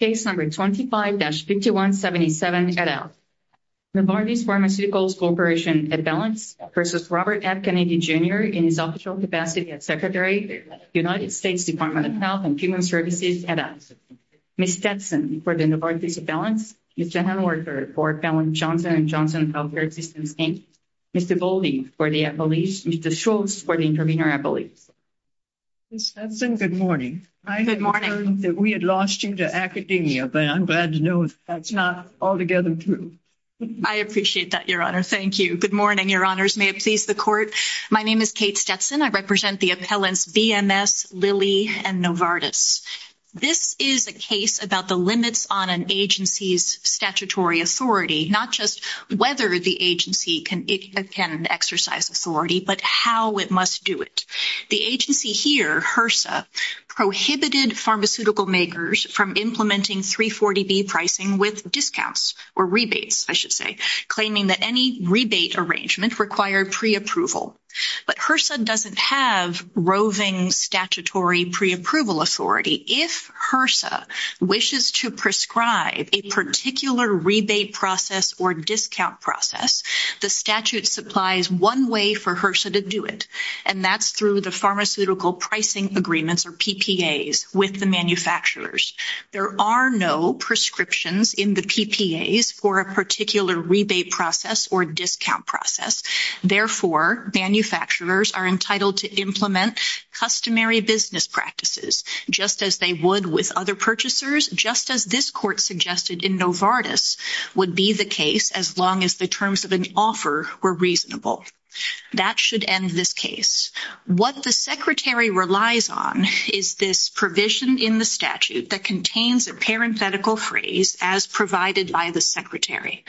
Case No. 25-5177, et al. Novartis Pharmaceuticals Corporation, et al. v. Robert F. Kennedy, Jr. in his official capacity as Secretary of the United States Department of Health and Human Services, et al. Ms. Stetson for the Novartis, et al. Mr. Hanward for Fallon Johnson & Johnson Healthcare Systems Inc. Mr. Golding for the employees. Mr. Schultz for the intervener employees. Ms. Stetson, good morning. Good morning. I know that we had lost you to academia, but I'm glad to know that's not altogether true. I appreciate that, Your Honor. Thank you. Good morning, Your Honors. May it please the Court. My name is Kate Stetson. I represent the appellants BMS, Lilly, and Novartis. This is a case about the limits on an agency's statutory authority, not just whether the agency can exercise authority, but how it must do it. The agency here, HRSA, prohibited pharmaceutical makers from implementing 340B pricing with discounts or rebates, I should say, claiming that any rebate arrangement required preapproval. But HRSA doesn't have roving statutory preapproval authority. If HRSA wishes to prescribe a particular rebate process or discount process, the statute supplies one way for HRSA to do it, and that's through the pharmaceutical pricing agreements, or PPAs, with the manufacturers. There are no prescriptions in the PPAs for a particular rebate process or discount process. Therefore, manufacturers are entitled to implement customary business practices, just as they would with other purchasers, just as this Court suggested in Novartis would be the case, as long as the terms of an offer were reasonable. That should end this case. What the Secretary relies on is this provision in the statute that contains a parenthetical phrase, as provided by the Secretary.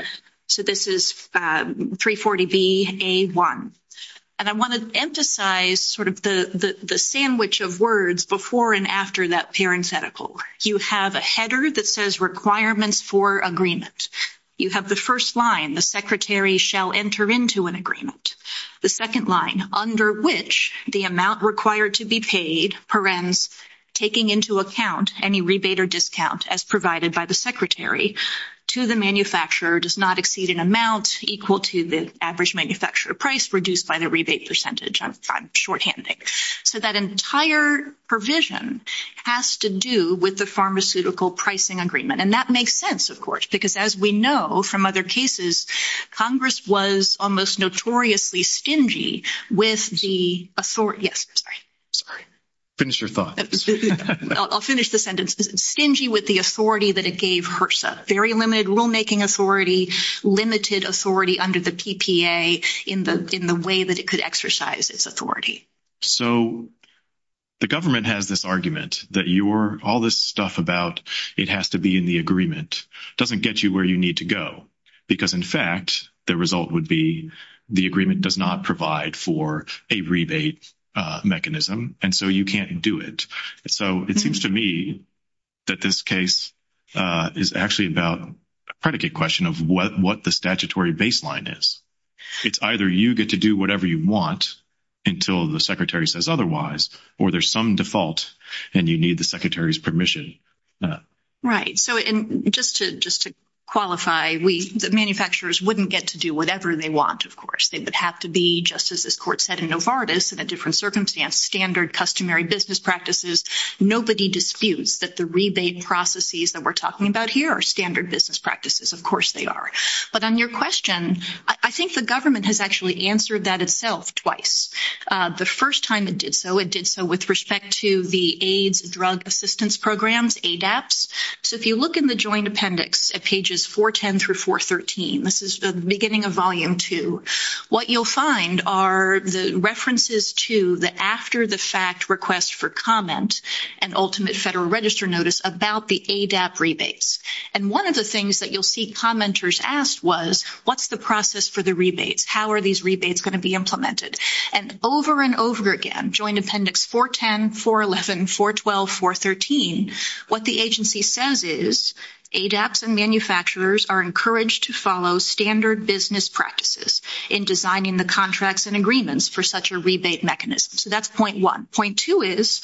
So this is 340BA1. And I want to emphasize sort of the sandwich of words before and after that parenthetical. You have a header that says requirements for agreement. You have the first line, the Secretary shall enter into an agreement. The second line, under which the amount required to be paid, perens, taking into account any rebate or discount, as provided by the Secretary, to the manufacturer does not exceed an amount equal to the average manufacturer price reduced by the rebate percentage. I'm shorthanding. So that entire provision has to do with the pharmaceutical pricing agreement. And that makes sense, of course, because as we know from other cases, Congress was almost notoriously stingy with the authority. Yes, sorry. Finish your thought. I'll finish the sentence. Stingy with the authority that it gave HRSA. Very limited rulemaking authority, limited authority under the PPA in the way that it could exercise its authority. So the government has this argument that all this stuff about it has to be in the agreement doesn't get you where you need to go. Because, in fact, the result would be the agreement does not provide for a rebate mechanism, and so you can't do it. So it seems to me that this case is actually about a predicate question of what the statutory baseline is. It's either you get to do whatever you want until the Secretary says otherwise, or there's some default and you need the Secretary's permission. Right. So just to qualify, the manufacturers wouldn't get to do whatever they want, of course. They would have to be, just as this court said in Novartis, in a different circumstance, standard customary business practices. Nobody disputes that the rebate processes that we're talking about here are standard business practices. Of course they are. But on your question, I think the government has actually answered that itself twice. The first time it did so, it did so with respect to the AIDS drug assistance programs, ADAPTS. So if you look in the Joint Appendix at pages 410 through 413, this is the beginning of Volume 2, what you'll find are the references to the after-the-fact request for comment and ultimate Federal Register notice about the ADAPT rebates. And one of the things that you'll see commenters ask was, what's the process for the rebates? How are these rebates going to be implemented? And over and over again, Joint Appendix 410, 411, 412, 413, what the agency says is, ADAPTS and manufacturers are encouraged to follow standard business practices in designing the contracts and agreements for such a rebate mechanism. So that's point one. Point two is,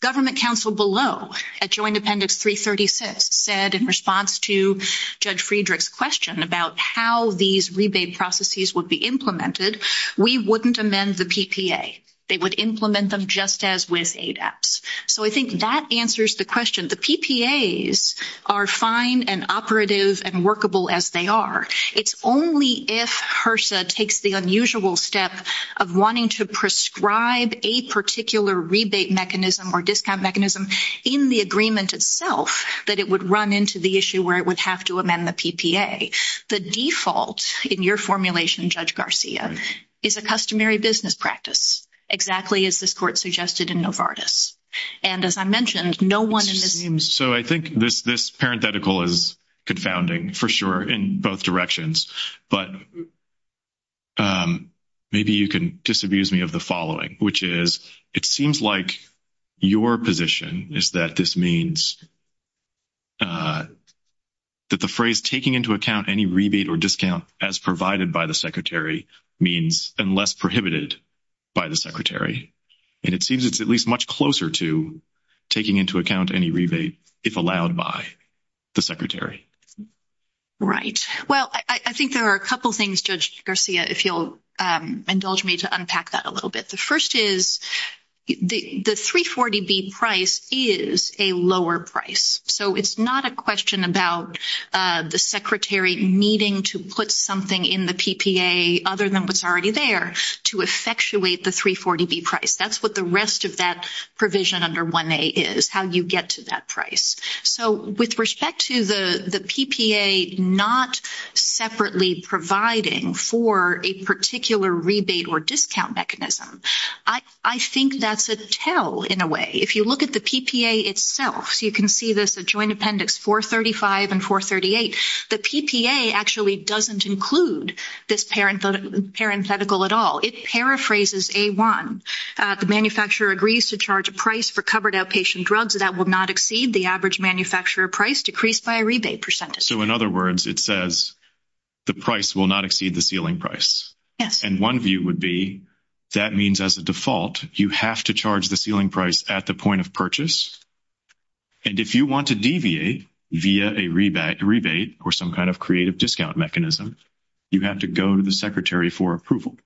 government counsel below at Joint Appendix 336 said in response to Judge Friedrich's question about how these rebate processes would be implemented, we wouldn't amend the PPA. They would implement them just as with ADAPTS. So I think that answers the question. The PPAs are fine and operative and workable as they are. It's only if HRSA takes the unusual step of wanting to prescribe a particular rebate mechanism or discount mechanism in the agreement itself that it would run into the issue where it would have to amend the PPA. The default in your formulation, Judge Garcia, is a customary business practice, exactly as this Court suggested in Novartis. And as I mentioned, no one in this room... So I think this parenthetical is confounding, for sure, in both directions. But maybe you can disabuse me of the following, which is, it seems like your position is that this means that the phrase taking into account any rebate or discount as provided by the Secretary means unless prohibited by the Secretary. And it seems it's at least much closer to taking into account any rebate if allowed by the Secretary. Right. Well, I think there are a couple things, Judge Garcia, if you'll indulge me to unpack that a little bit. The first is the 340B price is a lower price. So it's not a question about the Secretary needing to put something in the PPA other than what's already there to effectuate the 340B price. That's what the rest of that provision under 1A is, how you get to that price. So with respect to the PPA not separately providing for a particular rebate or discount mechanism, I think that's a tell, in a way. If you look at the PPA itself, you can see this, the Joint Appendix 435 and 438. The PPA actually doesn't include this parenthetical at all. It paraphrases A-1. The manufacturer agrees to charge a price for covered outpatient drugs that will not exceed the average manufacturer price decreased by a rebate percentage. So, in other words, it says the price will not exceed the ceiling price. Yes. And one view would be that means, as a default, you have to charge the ceiling price at the point of purchase. And if you want to deviate via a rebate or some kind of creative discount mechanism, you have to go to the Secretary for approval.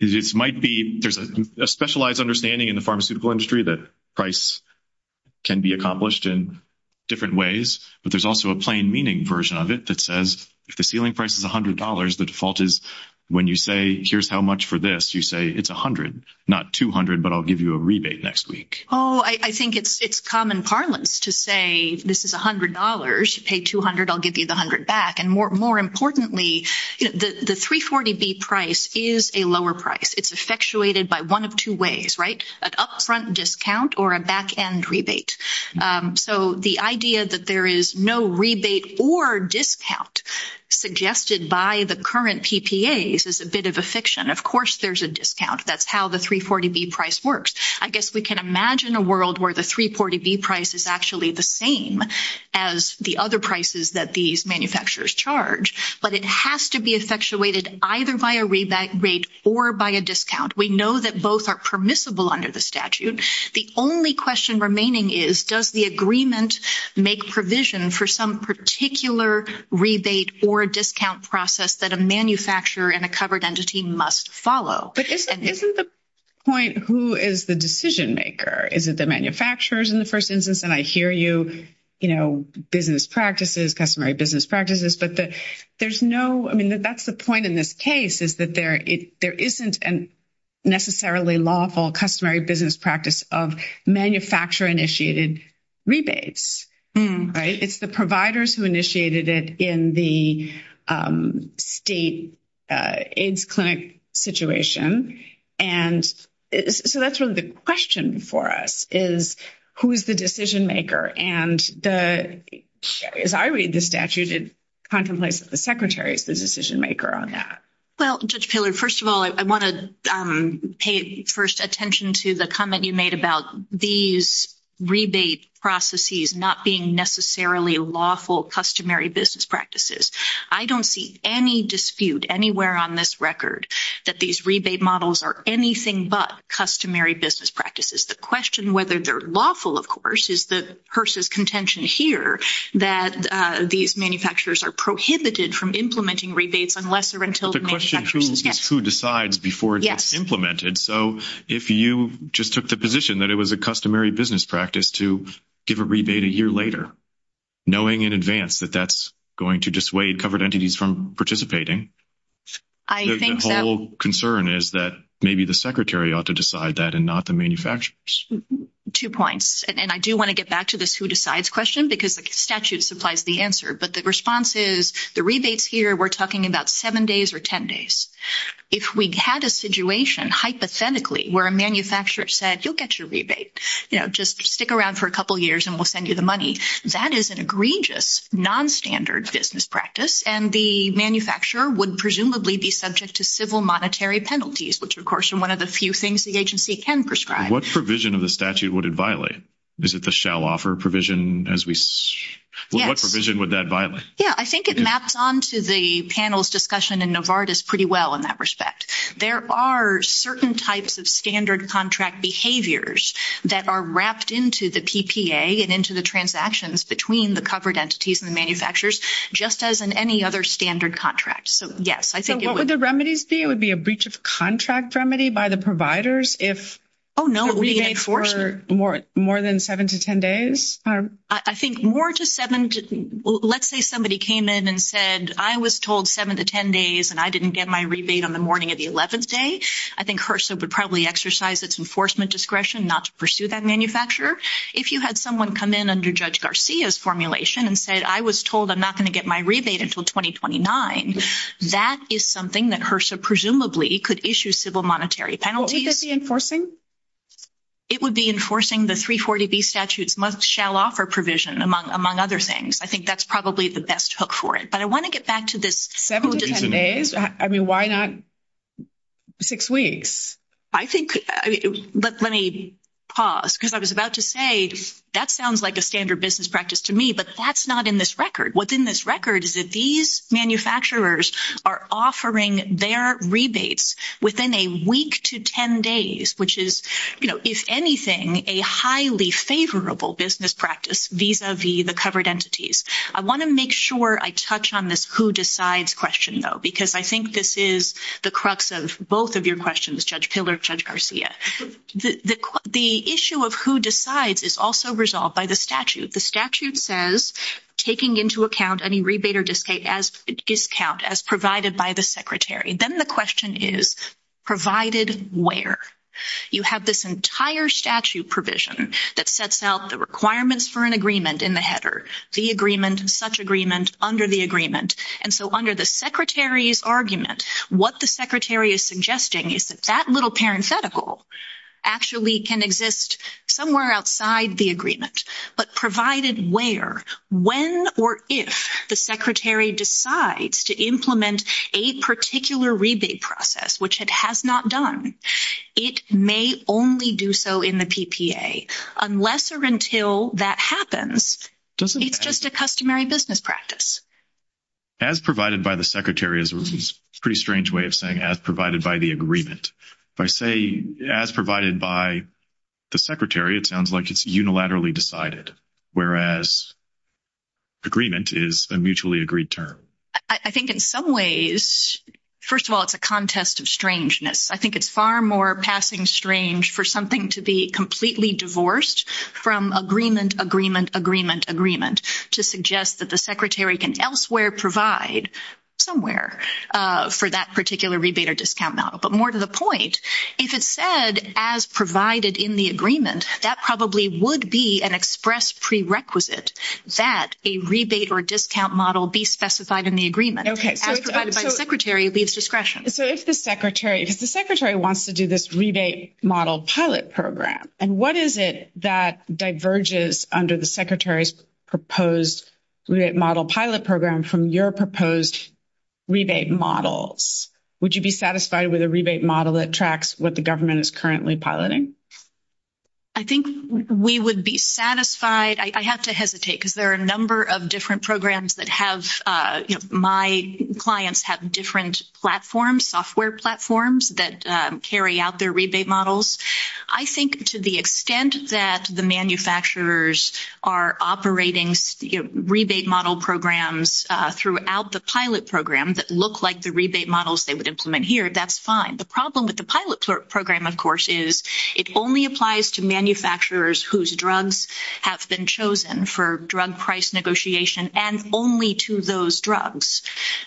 It might be there's a specialized understanding in the pharmaceutical industry that price can be accomplished in different ways. But there's also a plain meaning version of it that says if the ceiling price is $100, the default is when you say here's how much for this, you say it's $100, not $200, but I'll give you a rebate next week. Oh, I think it's common parlance to say this is $100. You pay $200, I'll give you the $100 back. And more importantly, the 340B price is a lower price. It's effectuated by one of two ways, right, an upfront discount or a back-end rebate. So the idea that there is no rebate or discount suggested by the current PPAs is a bit of a fiction. Of course there's a discount. That's how the 340B price works. I guess we can imagine a world where the 340B price is actually the same as the other prices that these manufacturers charge. But it has to be effectuated either by a rebate or by a discount. We know that both are permissible under the statute. The only question remaining is does the agreement make provision for some particular rebate or discount process that a manufacturer and a covered entity must follow? But isn't the point who is the decision-maker? Is it the manufacturers in the first instance? And I hear you, you know, business practices, customary business practices. But there's no – I mean, that's the point in this case is that there isn't a necessarily lawful customary business practice of manufacturer-initiated rebates, right? It's the providers who initiated it in the state AIDS clinic situation. And so that's really the question for us is who is the decision-maker? And as I read the statute, it contemplates that the secretary is the decision-maker on that. Well, Judge Pillard, first of all, I want to pay first attention to the comment you made about these rebate processes not being necessarily lawful customary business practices. I don't see any dispute anywhere on this record that these rebate models are anything but customary business practices. The question whether they're lawful, of course, is that HRSA's contention here that these manufacturers are prohibited from implementing rebates unless or until the manufacturer – The question is who decides before it gets implemented. So if you just took the position that it was a customary business practice to give a rebate a year later, knowing in advance that that's going to dissuade covered entities from participating, the whole concern is that maybe the secretary ought to decide that and not the manufacturers. Two points. And I do want to get back to this who decides question because the statute supplies the answer. But the response is the rebates here, we're talking about 7 days or 10 days. If we had a situation hypothetically where a manufacturer said, you'll get your rebate, just stick around for a couple of years and we'll send you the money, that is an egregious nonstandard business practice. And the manufacturer would presumably be subject to civil monetary penalties, which, of course, is one of the few things the agency can prescribe. What provision of the statute would it violate? Is it the shall offer provision? What provision would that violate? Yeah, I think it maps on to the panel's discussion in Novartis pretty well in that respect. There are certain types of standard contract behaviors that are wrapped into the PPA and into the transactions between the covered entities and the manufacturers, just as in any other standard contract. So, yes, I think it would be a breach of contract remedy by the providers if we wait for more than 7 to 10 days. I think more to 7, let's say somebody came in and said, I was told 7 to 10 days and I didn't get my rebate on the morning of the 11th day. I think HRSA would probably exercise its enforcement discretion not to pursue that manufacturer. If you had someone come in under Judge Garcia's formulation and said, I was told I'm not going to get my rebate until 2029, that is something that HRSA presumably could issue civil monetary penalties. What would that be enforcing? It would be enforcing the 340B statute's must-shall-offer provision, among other things. I think that's probably the best hook for it. But I want to get back to this 7 to 10 days. I mean, why not 6 weeks? I think, but let me pause because I was about to say that sounds like a standard business practice to me, but that's not in this record. What's in this record is that these manufacturers are offering their rebates within a week to 10 days, which is, you know, if anything, a highly favorable business practice vis-a-vis the covered entities. I want to make sure I touch on this who decides question, though, because I think this is the crux of both of your questions, Judge Hill or Judge Garcia. The issue of who decides is also resolved by the statute. The statute says taking into account any rebate or discount as provided by the secretary. Then the question is provided where? You have this entire statute provision that sets out the requirements for an agreement in the header, the agreement, such agreement, under the agreement. And so under the secretary's argument, what the secretary is suggesting is that that little parenthetical actually can exist somewhere outside the agreement. But provided where, when, or if the secretary decides to implement a particular rebate process, which it has not done, it may only do so in the PPA. Unless or until that happens, it's just a customary business practice. As provided by the secretary is a pretty strange way of saying as provided by the agreement. If I say as provided by the secretary, it sounds like it's unilaterally decided, whereas agreement is a mutually agreed term. I think in some ways, first of all, it's a contest of strangeness. I think it's far more passing strange for something to be completely divorced from agreement, agreement, agreement, agreement to suggest that the secretary can elsewhere provide somewhere for that particular rebate or discount model. But more to the point, if it said as provided in the agreement, that probably would be an express prerequisite that a rebate or discount model be specified in the agreement. As provided by the secretary leaves discretion. If the secretary wants to do this rebate model pilot program, and what is it that diverges under the secretary's proposed rebate model pilot program from your proposed rebate models? Would you be satisfied with a rebate model that tracks what the government is currently piloting? I think we would be satisfied. I have to hesitate because there are a number of different programs that have my clients have different platforms, software platforms that carry out their rebate models. I think to the extent that the manufacturers are operating rebate model programs throughout the pilot program that look like the rebate models they would implement here, that's fine. The problem with the pilot program, of course, is it only applies to manufacturers whose drugs have been chosen for drug price negotiation and only to those drugs.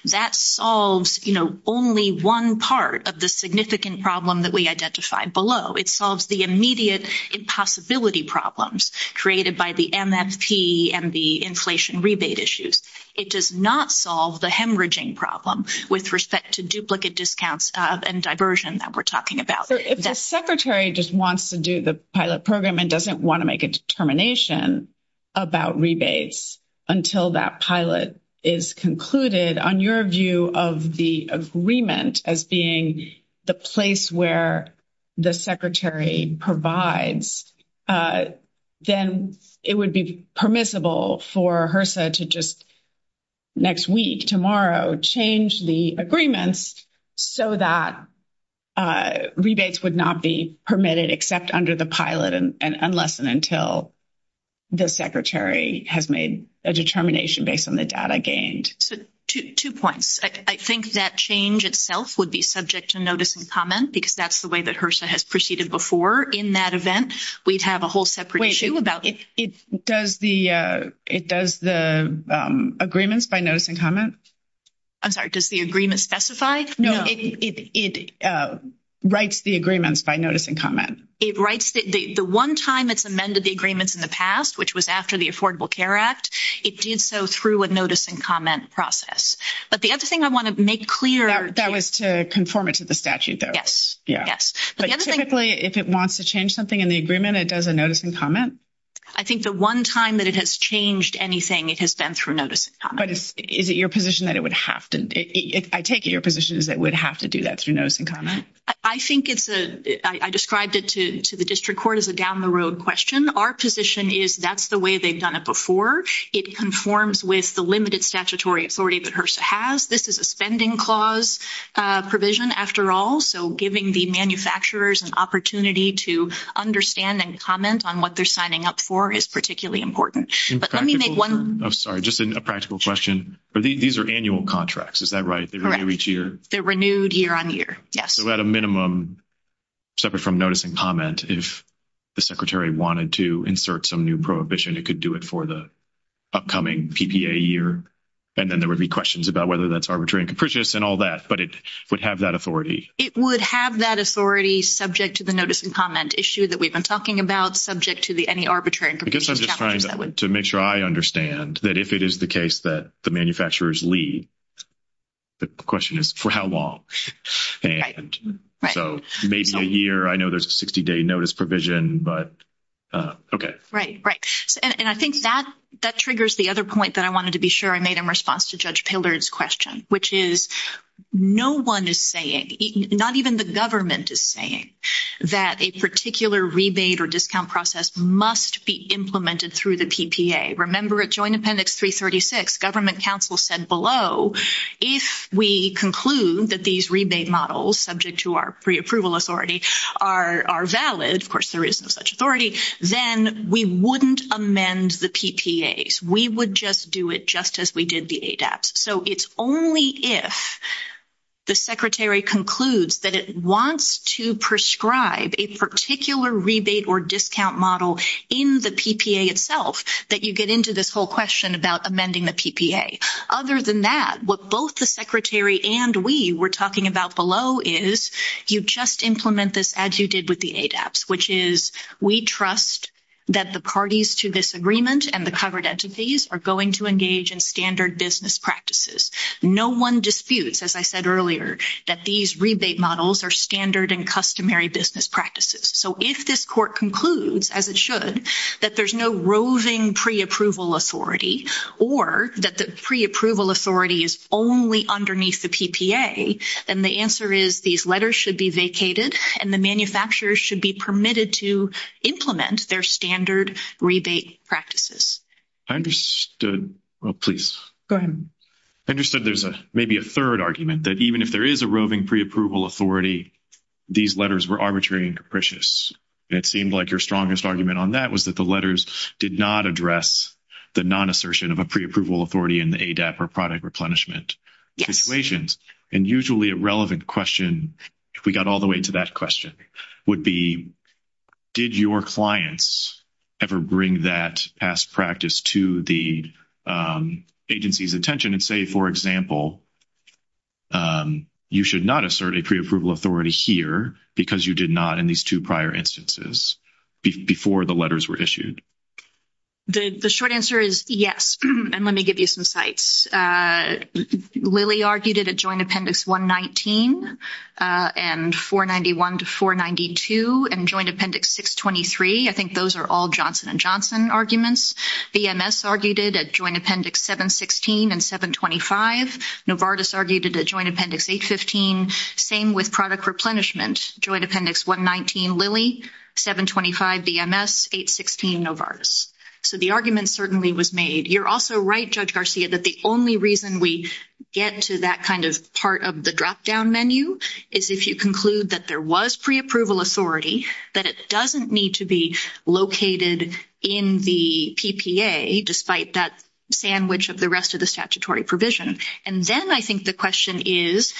That solves only one part of the significant problem that we identified below. It solves the immediate impossibility problems created by the MSP and the inflation rebate issues. It does not solve the hemorrhaging problem with respect to duplicate discounts and diversion that we're talking about. If the secretary just wants to do the pilot program and doesn't want to make a determination about rebates until that pilot is concluded, on your view of the agreement as being the place where the secretary provides, then it would be permissible for HRSA to just next week, tomorrow, change the agreements so that rebates would not be permitted except under the pilot unless and until the secretary has made a determination based on the data gained. Two points. I think that change itself would be subject to notice and comment because that's the way that HRSA has proceeded before in that event. We'd have a whole separate issue about it. Wait. Does the agreements by notice and comment? I'm sorry. Does the agreement specify? No. It writes the agreements by notice and comment. It writes the one time it's amended the agreements in the past, which was after the Affordable Care Act. It did so through a notice and comment process. But the other thing I want to make clear. That was to conform it to the statute, though. Yes. Yes. But typically, if it wants to change something in the agreement, it does a notice and comment. I think the one time that it has changed anything, it has been through notice and comment. But is it your position that it would have to? I take it your position is that it would have to do that through notice and comment. I think it's a – I described it to the district court as a down-the-road question. Our position is that's the way they've done it before. It conforms with the limited statutory authority that HRSA has. This is a spending clause provision, after all. So, giving the manufacturers an opportunity to understand and comment on what they're signing up for is particularly important. But let me make one – I'm sorry. Just a practical question. These are annual contracts. Is that right? Correct. They renew each year? They're renewed year on year. So, at a minimum, separate from notice and comment, if the secretary wanted to insert some new prohibition, it could do it for the upcoming PPA year, and then there would be questions about whether that's arbitrary and capricious and all that. But it would have that authority? It would have that authority subject to the notice and comment issue that we've been talking about, subject to any arbitrary and capricious – I guess I'm just trying to make sure I understand that if it is the case that the manufacturers leave, the question is for how long? So, maybe a year. I know there's a 60-day notice provision, but okay. Right, right. And I think that triggers the other point that I wanted to be sure I made in response to Judge Pillard's question, which is no one is saying, not even the government is saying, that a particular rebate or discount process must be implemented through the PPA. Remember, at Joint Appendix 336, government counsel said below, if we conclude that these rebate models, subject to our preapproval authority, are valid – of course, there is no such authority – then we wouldn't amend the PPAs. We would just do it just as we did the ADAPT. So, it's only if the secretary concludes that it wants to prescribe a particular rebate or discount model in the PPA itself that you get into this whole question about amending the PPA. Other than that, what both the secretary and we were talking about below is, you just implement this as you did with the ADAPT, which is, we trust that the parties to this agreement and the covered entities are going to engage in standard business practices. No one disputes, as I said earlier, that these rebate models are standard and customary business practices. So, if this court concludes, as it should, that there's no roving preapproval authority or that the preapproval authority is only underneath the PPA, then the answer is these letters should be vacated and the manufacturers should be permitted to implement their standard rebate practices. I understood – oh, please. Go ahead. I understood there's maybe a third argument, that even if there is a roving preapproval authority, these letters were arbitrary and capricious. It seemed like your strongest argument on that was that the letters did not address the non-assertion of a preapproval authority in the ADAPT or product replenishment situations. And usually a relevant question, if we got all the way to that question, would be, did your clients ever bring that past practice to the agency's attention and say, for example, you should not assert a preapproval authority here because you did not in these two prior instances, before the letters were issued? The short answer is yes. And let me give you some sites. Lilly argued it at Joint Appendix 119 and 491 to 492 and Joint Appendix 623. I think those are all Johnson & Johnson arguments. VMS argued it at Joint Appendix 716 and 725. Novartis argued it at Joint Appendix 815. Same with product replenishment. Joint Appendix 119, Lilly. 725, VMS. 816, Novartis. So the argument certainly was made. You're also right, Judge Garcia, that the only reason we get to that kind of part of the dropdown menu is if you conclude that there was preapproval authority, that it doesn't need to be located in the PPA, despite that sandwich of the rest of the statutory provision. And then I think the question is,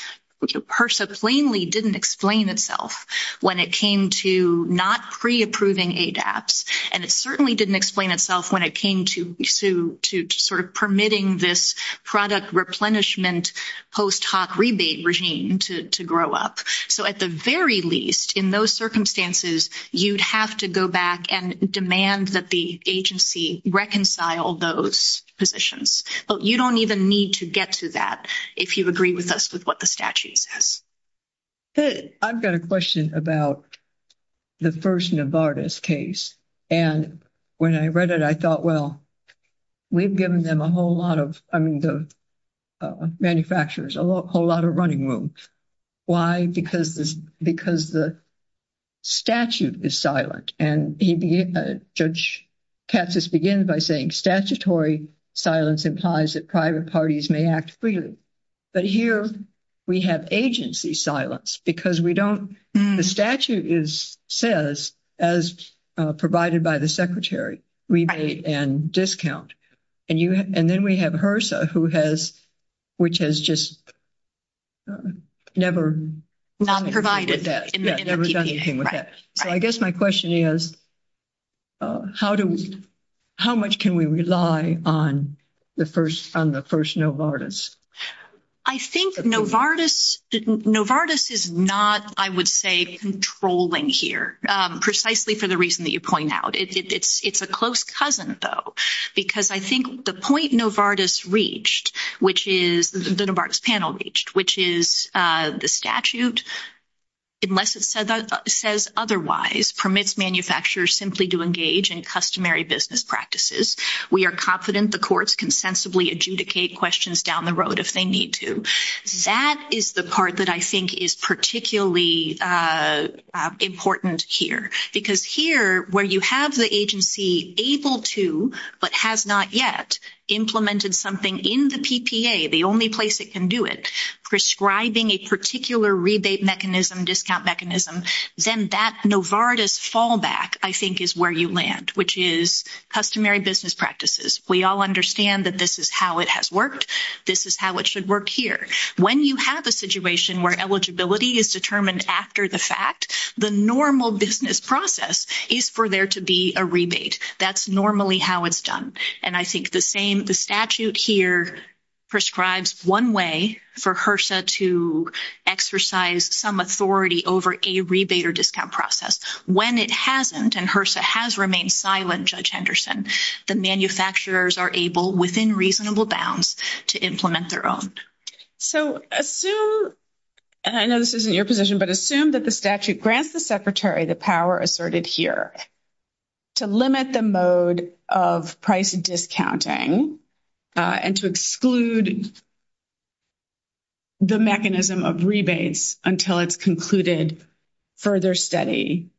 HRSA plainly didn't explain itself when it came to not preapproving ADAPTs. And it certainly didn't explain itself when it came to sort of permitting this product replenishment post hoc rebate regime to grow up. So at the very least, in those circumstances, you'd have to go back and demand that the agency reconcile those positions. But you don't even need to get to that if you agree with us with what the statute says. I've got a question about the first Novartis case. And when I read it, I thought, well, we've given them a whole lot of, I mean, the manufacturers, a whole lot of running room. Why? Because the statute is silent. And Judge Katz has began by saying statutory silence implies that private parties may act freely. But here we have agency silence because we don't, the statute says, as provided by the secretary, rebate and discount. And then we have HRSA, who has, which has just never provided that, never done anything with that. So I guess my question is, how much can we rely on the first Novartis? I think Novartis is not, I would say, controlling here, precisely for the reason that you point out. It's a close cousin, though, because I think the point Novartis reached, which is, the Novartis panel reached, which is the statute, unless it says otherwise, permits manufacturers simply to engage in customary business practices. We are confident the courts can sensibly adjudicate questions down the road if they need to. That is the part that I think is particularly important here. Because here, where you have the agency able to, but has not yet, implemented something in the PPA, the only place it can do it, prescribing a particular rebate mechanism, discount mechanism, then that Novartis fallback, I think, is where you land, which is customary business practices. We all understand that this is how it has worked. This is how it should work here. When you have a situation where eligibility is determined after the fact, the normal business process is for there to be a rebate. That's normally how it's done. And I think the same, the statute here prescribes one way for HRSA to exercise some authority over a rebate or discount process. When it hasn't, and HRSA has remained silent, Judge Henderson, the manufacturers are able, within reasonable bounds, to implement their own. So assume, and I know this isn't your position, but assume that the statute grants the Secretary the power asserted here to limit the mode of price discounting and to exclude the mechanism of rebates until it's concluded further study.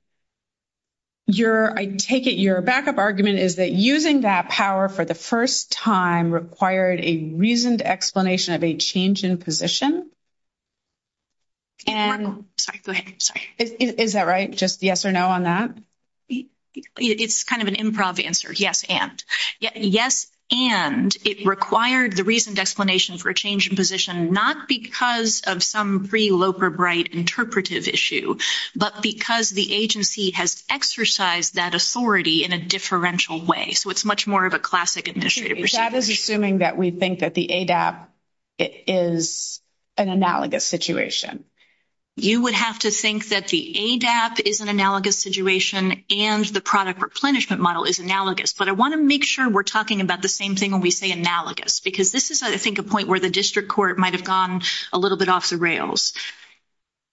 Your, I take it your backup argument is that using that power for the first time required a reasoned explanation of a change in position? And... Sorry, go ahead. Sorry. Is that right? Just yes or no on that? It's kind of an improv answer. Yes, and. Yes, and it required the reasoned explanation for a change in position not because of some pre-Loper-Bright interpretive issue, but because the agency has exercised that authority in a differential way. So it's much more of a classic administrative procedure. That is assuming that we think that the ADAP is an analogous situation. You would have to think that the ADAP is an analogous situation and the product replenishment model is analogous. But I want to make sure we're talking about the same thing when we say analogous, because this is, I think, a point where the district court might have gone a little bit off the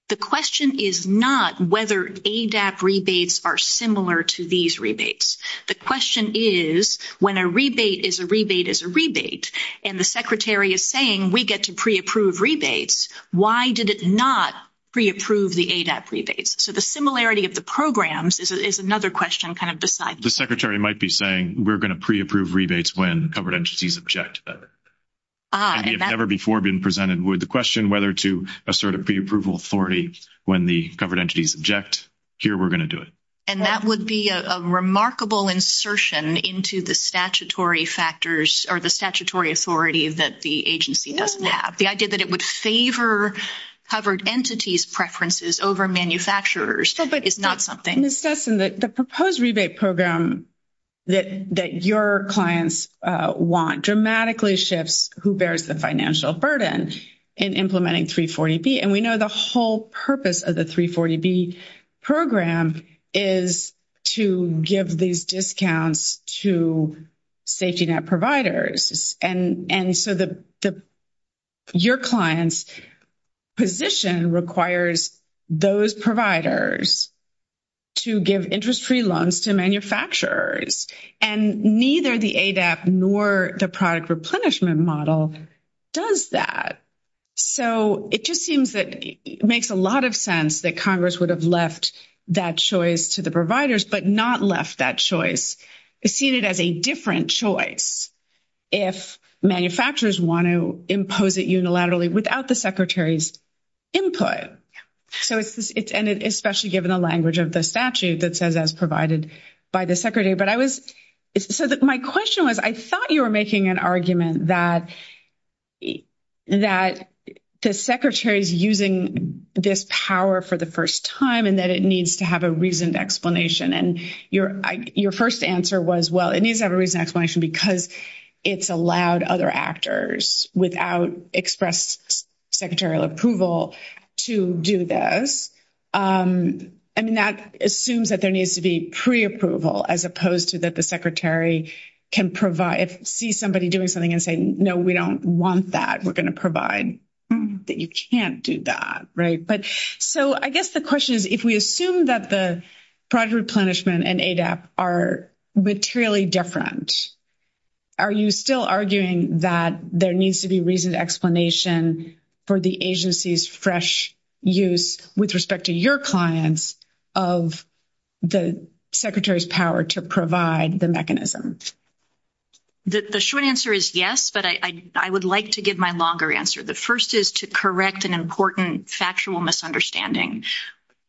The question is not whether ADAP rebates are similar to these rebates. The question is when a rebate is a rebate is a rebate and the Secretary is saying we get to pre-approve rebates, why did it not pre-approve the ADAP rebates? So the similarity of the programs is another question kind of beside. The Secretary might be saying we're going to pre-approve rebates when covered entities object to that. It's never before been presented with the question whether to assert a pre-approval authority when the covered entities object. Here we're going to do it. And that would be a remarkable insertion into the statutory factors or the statutory authority that the agency doesn't have. The idea that it would favor covered entities' preferences over manufacturers is not something. In assessing the proposed rebate program that your clients want dramatically shifts who bears the financial burden in implementing 340B. And we know the whole purpose of the 340B program is to give these discounts to safety net providers. And so your client's position requires those providers to give interest-free loans to manufacturers. And neither the ADAP nor the product replenishment model does that. So it just seems that it makes a lot of sense that Congress would have left that choice to the providers but not left that choice. It's seen as a different choice if manufacturers want to impose it unilaterally without the Secretary's input. And especially given the language of the statute that says as provided by the Secretary. But I was, so my question was I thought you were making an argument that the Secretary is using this power for the first time and that it needs to have a reasoned explanation. And your first answer was, well, it needs to have a reasoned explanation because it's allowed other actors without expressed secretarial approval to do this. And that assumes that there needs to be preapproval as opposed to that the Secretary can provide, see somebody doing something and say, no, we don't want that. We're going to provide that you can't do that, right? But so I guess the question is if we assume that the product replenishment and ADAP are materially different, are you still arguing that there needs to be reasoned explanation for the agency's fresh use with respect to your clients of the Secretary's power to provide the mechanisms? The short answer is yes, but I would like to give my longer answer. The first is to correct an important factual misunderstanding.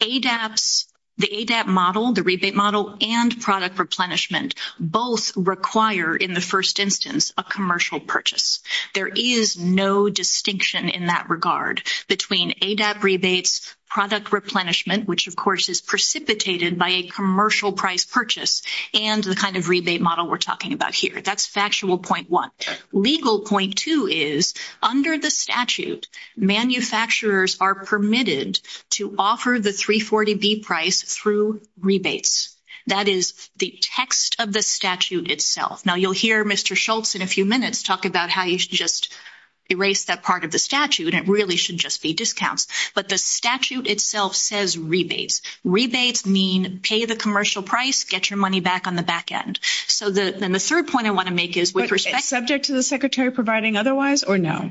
ADAP's, the ADAP model, the rebate model, and product replenishment both require in the first instance a commercial purchase. There is no distinction in that regard between ADAP rebates, product replenishment, which of course is precipitated by a commercial price purchase, and the kind of rebate model we're talking about here. That's factual point one. Legal point two is under the statute, manufacturers are permitted to offer the 340B price through rebates. That is the text of the statute itself. Now, you'll hear Mr. Schultz in a few minutes talk about how you should just erase that part of the statute. It really should just be discounts. But the statute itself says rebates. Rebates mean pay the commercial price, get your money back on the back end. Then the third point I want to make is with respect... Subject to the secretary providing otherwise or no?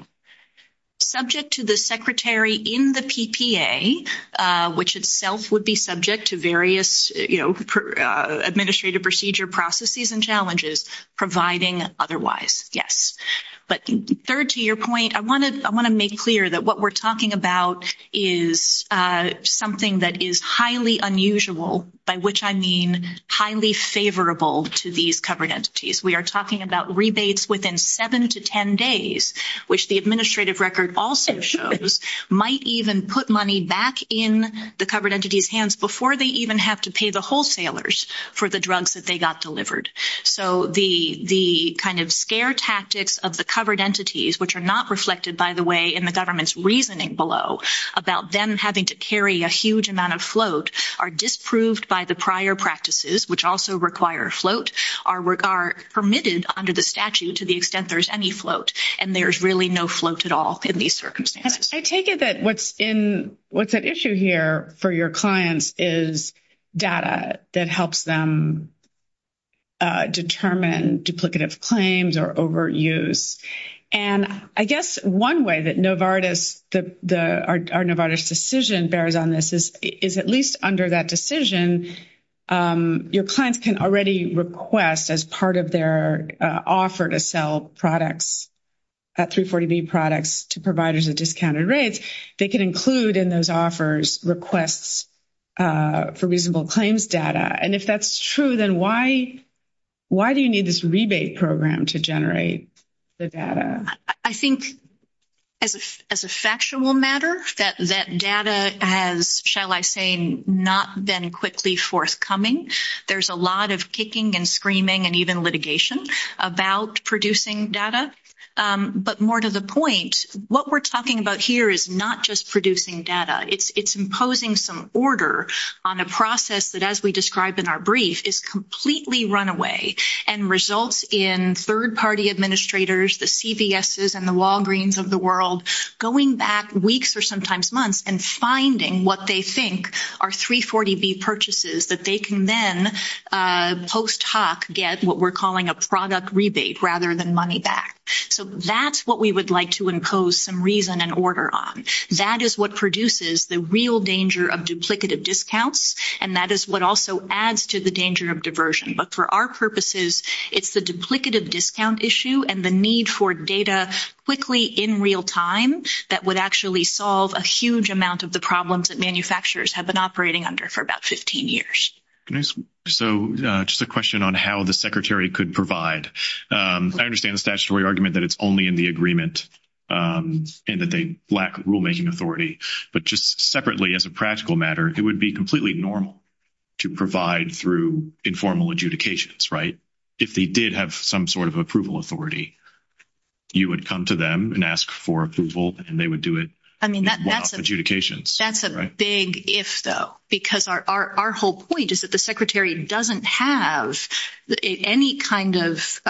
Subject to the secretary in the PPA, which itself would be subject to various administrative procedure processes and challenges, providing otherwise, yes. But third to your point, I want to make clear that what we're talking about is something that is highly unusual, by which I mean highly favorable to these covered entities. We are talking about rebates within 7 to 10 days, which the administrative record also shows might even put money back in the covered entity's hands before they even have to pay the wholesalers for the drugs that they got delivered. So the kind of scare tactics of the covered entities, which are not reflected, by the way, in the government's reasoning below about them having to carry a huge amount of float, are disproved by the prior practices, which also require float, are permitted under the statute to the extent there's any float. And there's really no float at all in these circumstances. I take it that what's at issue here for your clients is data that helps them determine duplicative claims or overt use. And I guess one way that our Novartis decision bears on this is at least under that decision, your clients can already request as part of their offer to sell products, 340B products, to providers at discounted rates. They can include in those offers requests for reasonable claims data. And if that's true, then why do you need this rebate program to generate the data? I think as a factual matter, that data has, shall I say, not been quickly forthcoming. There's a lot of kicking and screaming and even litigation about producing data. But more to the point, what we're talking about here is not just producing data. It's imposing some order on a process that, as we described in our brief, is completely runaway and results in third-party administrators, the CVSs and the Walgreens of the world, going back weeks or sometimes months and finding what they think are 340B purchases that they can then post hoc get what we're calling a product rebate rather than money back. So that's what we would like to impose some reason and order on. That is what produces the real danger of duplicative discounts. And that is what also adds to the danger of diversion. But for our purposes, it's the duplicative discount issue and the need for data quickly in real time that would actually solve a huge amount of the problems that manufacturers have been operating under for about 15 years. So just a question on how the Secretary could provide. I understand the statutory argument that it's only in the agreement and that they lack rulemaking authority, but just separately as a practical matter, it would be completely normal to provide through informal adjudications, right? If they did have some sort of approval authority, you would come to them and ask for approval and they would do it. I mean, that's a big if, though, because our whole point is that the Secretary doesn't have any kind of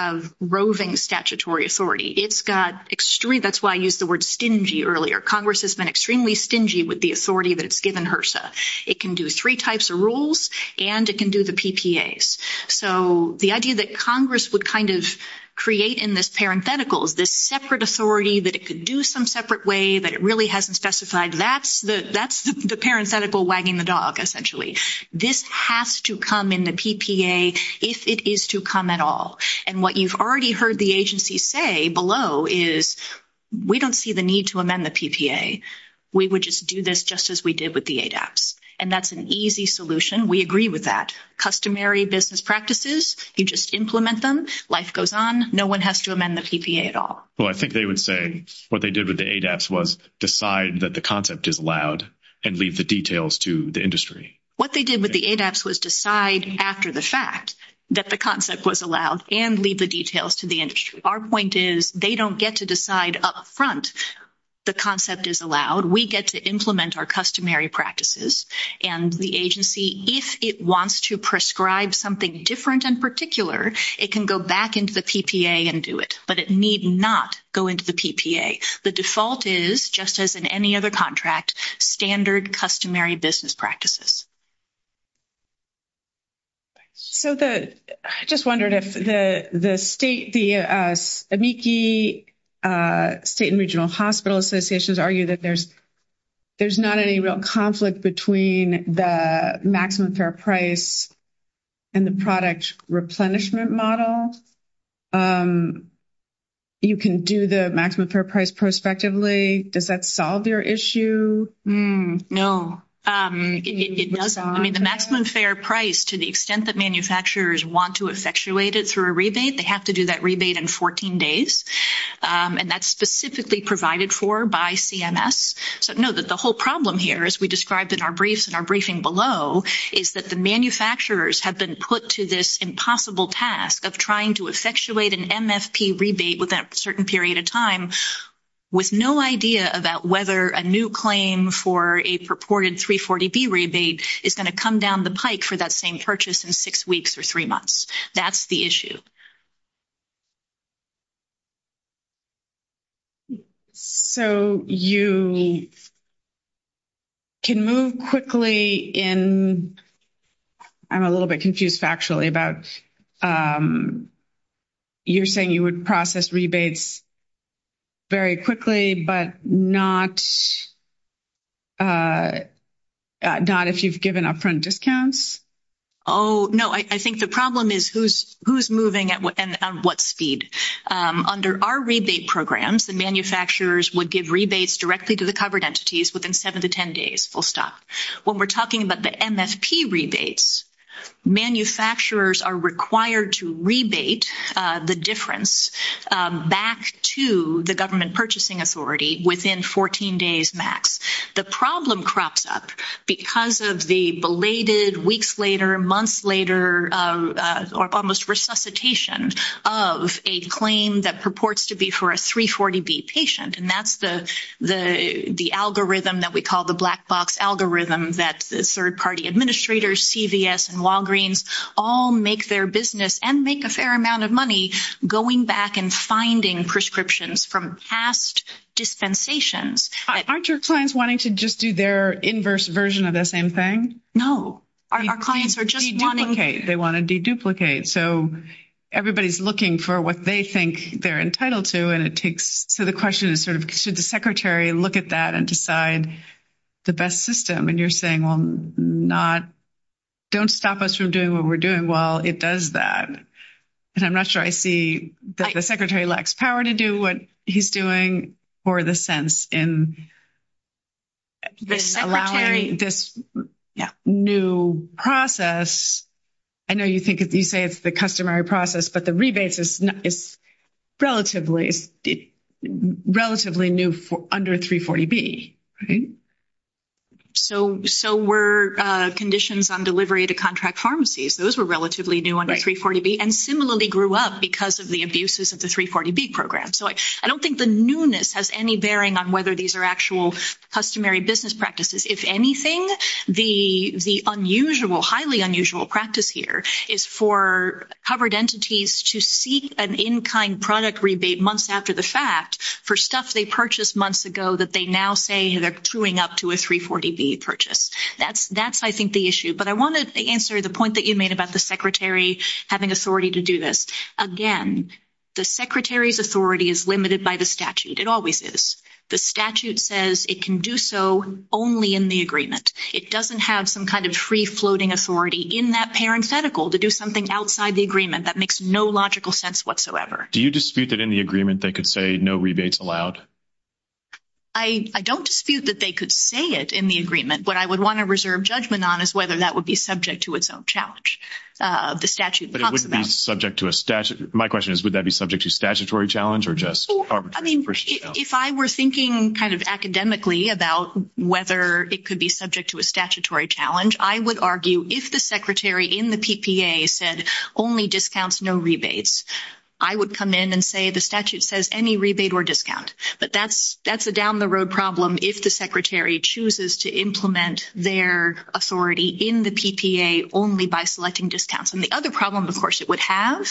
roving statutory authority. It's got extreme. That's why I used the word stingy earlier. Congress has been extremely stingy with the authority that's given HRSA. It can do three types of rules and it can do the PPAs. So the idea that Congress would kind of create in this parenthetical is this separate authority that it could do some separate way that it really hasn't specified. That's the parenthetical wagging the dog, essentially. This has to come in the PPA if it is to come at all. And what you've already heard the agency say below is we don't see the need to amend the PPA. We would just do this just as we did with the ADAPS. And that's an easy solution. We agree with that. Customary business practices, you just implement them. Life goes on. No one has to amend the PPA at all. Well, I think they would say what they did with the ADAPS was decide that the concept is allowed and leave the details to the industry. What they did with the ADAPS was decide after the fact that the concept was allowed and leave the details to the industry. Our point is they don't get to decide up front the concept is allowed. We get to implement our customary practices. And the agency, if it wants to prescribe something different and particular, it can go back into the PPA and do it. But it need not go into the PPA. The default is, just as in any other contract, standard customary business practices. I just wondered if the state and regional hospital associations argue that there's not any real conflict between the maximum fair price and the product replenishment model. You can do the maximum fair price prospectively. Does that solve your issue? No. It doesn't. I mean, the maximum fair price, to the extent that manufacturers want to effectuate it for a rebate, they have to do that rebate in 14 days. And that's specifically provided for by CMS. So, no, the whole problem here, as we described in our briefs and our briefing below, is that the manufacturers have been put to this impossible task of trying to effectuate an MFP rebate within a certain period of time with no idea about whether a new claim for a purported 340B rebate is going to come down the pike for that same purchase in six weeks or three months. That's the issue. Okay. So, you can move quickly in – I'm a little bit confused, actually, about you're saying you would process rebates very quickly but not if you've given upfront discounts? Oh, no. I think the problem is who's moving and at what speed. Under our rebate programs, the manufacturers would give rebates directly to the covered entities within seven to ten days, full stop. When we're talking about the MFP rebates, manufacturers are required to rebate the difference back to the government purchasing authority within 14 days max. The problem crops up because of the belated weeks later, months later, or almost resuscitation of a claim that purports to be for a 340B patient. And that's the algorithm that we call the black box algorithm that third-party administrators, CVS and Walgreens all make their business and make a fair amount of money going back and finding prescriptions from past dispensations. Aren't your clients wanting to just do their inverse version of the same thing? Our clients are just wanting – They want to de-duplicate. So, everybody's looking for what they think they're entitled to, and it takes – so the question is sort of should the secretary look at that and decide the best system? And you're saying, well, don't stop us from doing what we're doing while it does that. And I'm not sure I see that the secretary lacks power to do what he's doing or the sense in allowing this new process. I know you say it's the customary process, but the rebates is relatively new under 340B. So were conditions on delivery to contract pharmacies, those were relatively new under 340B and similarly grew up because of the abuses of the 340B program. So I don't think the newness has any bearing on whether these are actual customary business practices. If anything, the unusual, highly unusual practice here is for covered entities to seek an in-kind product rebate months after the fact for stuff they purchased months ago that they now say they're chewing up to a 340B purchase. That's, I think, the issue. But I want to answer the point that you made about the secretary having authority to do this. Again, the secretary's authority is limited by the statute. It always is. The statute says it can do so only in the agreement. It doesn't have some kind of free-floating authority in that parenthetical to do something outside the agreement that makes no logical sense whatsoever. Do you dispute that in the agreement they could say no rebates allowed? I don't dispute that they could say it in the agreement. What I would want to reserve judgment on is whether that would be subject to its own challenge. But it wouldn't be subject to a statute. My question is would that be subject to a statutory challenge or just arbitrary? If I were thinking kind of academically about whether it could be subject to a statutory challenge, I would argue if the secretary in the PPA said only discounts, no rebates, I would come in and say the statute says any rebate or discount. But that's a down-the-road problem if the secretary chooses to implement their authority in the PPA only by selecting discounts. And the other problem, of course, it would have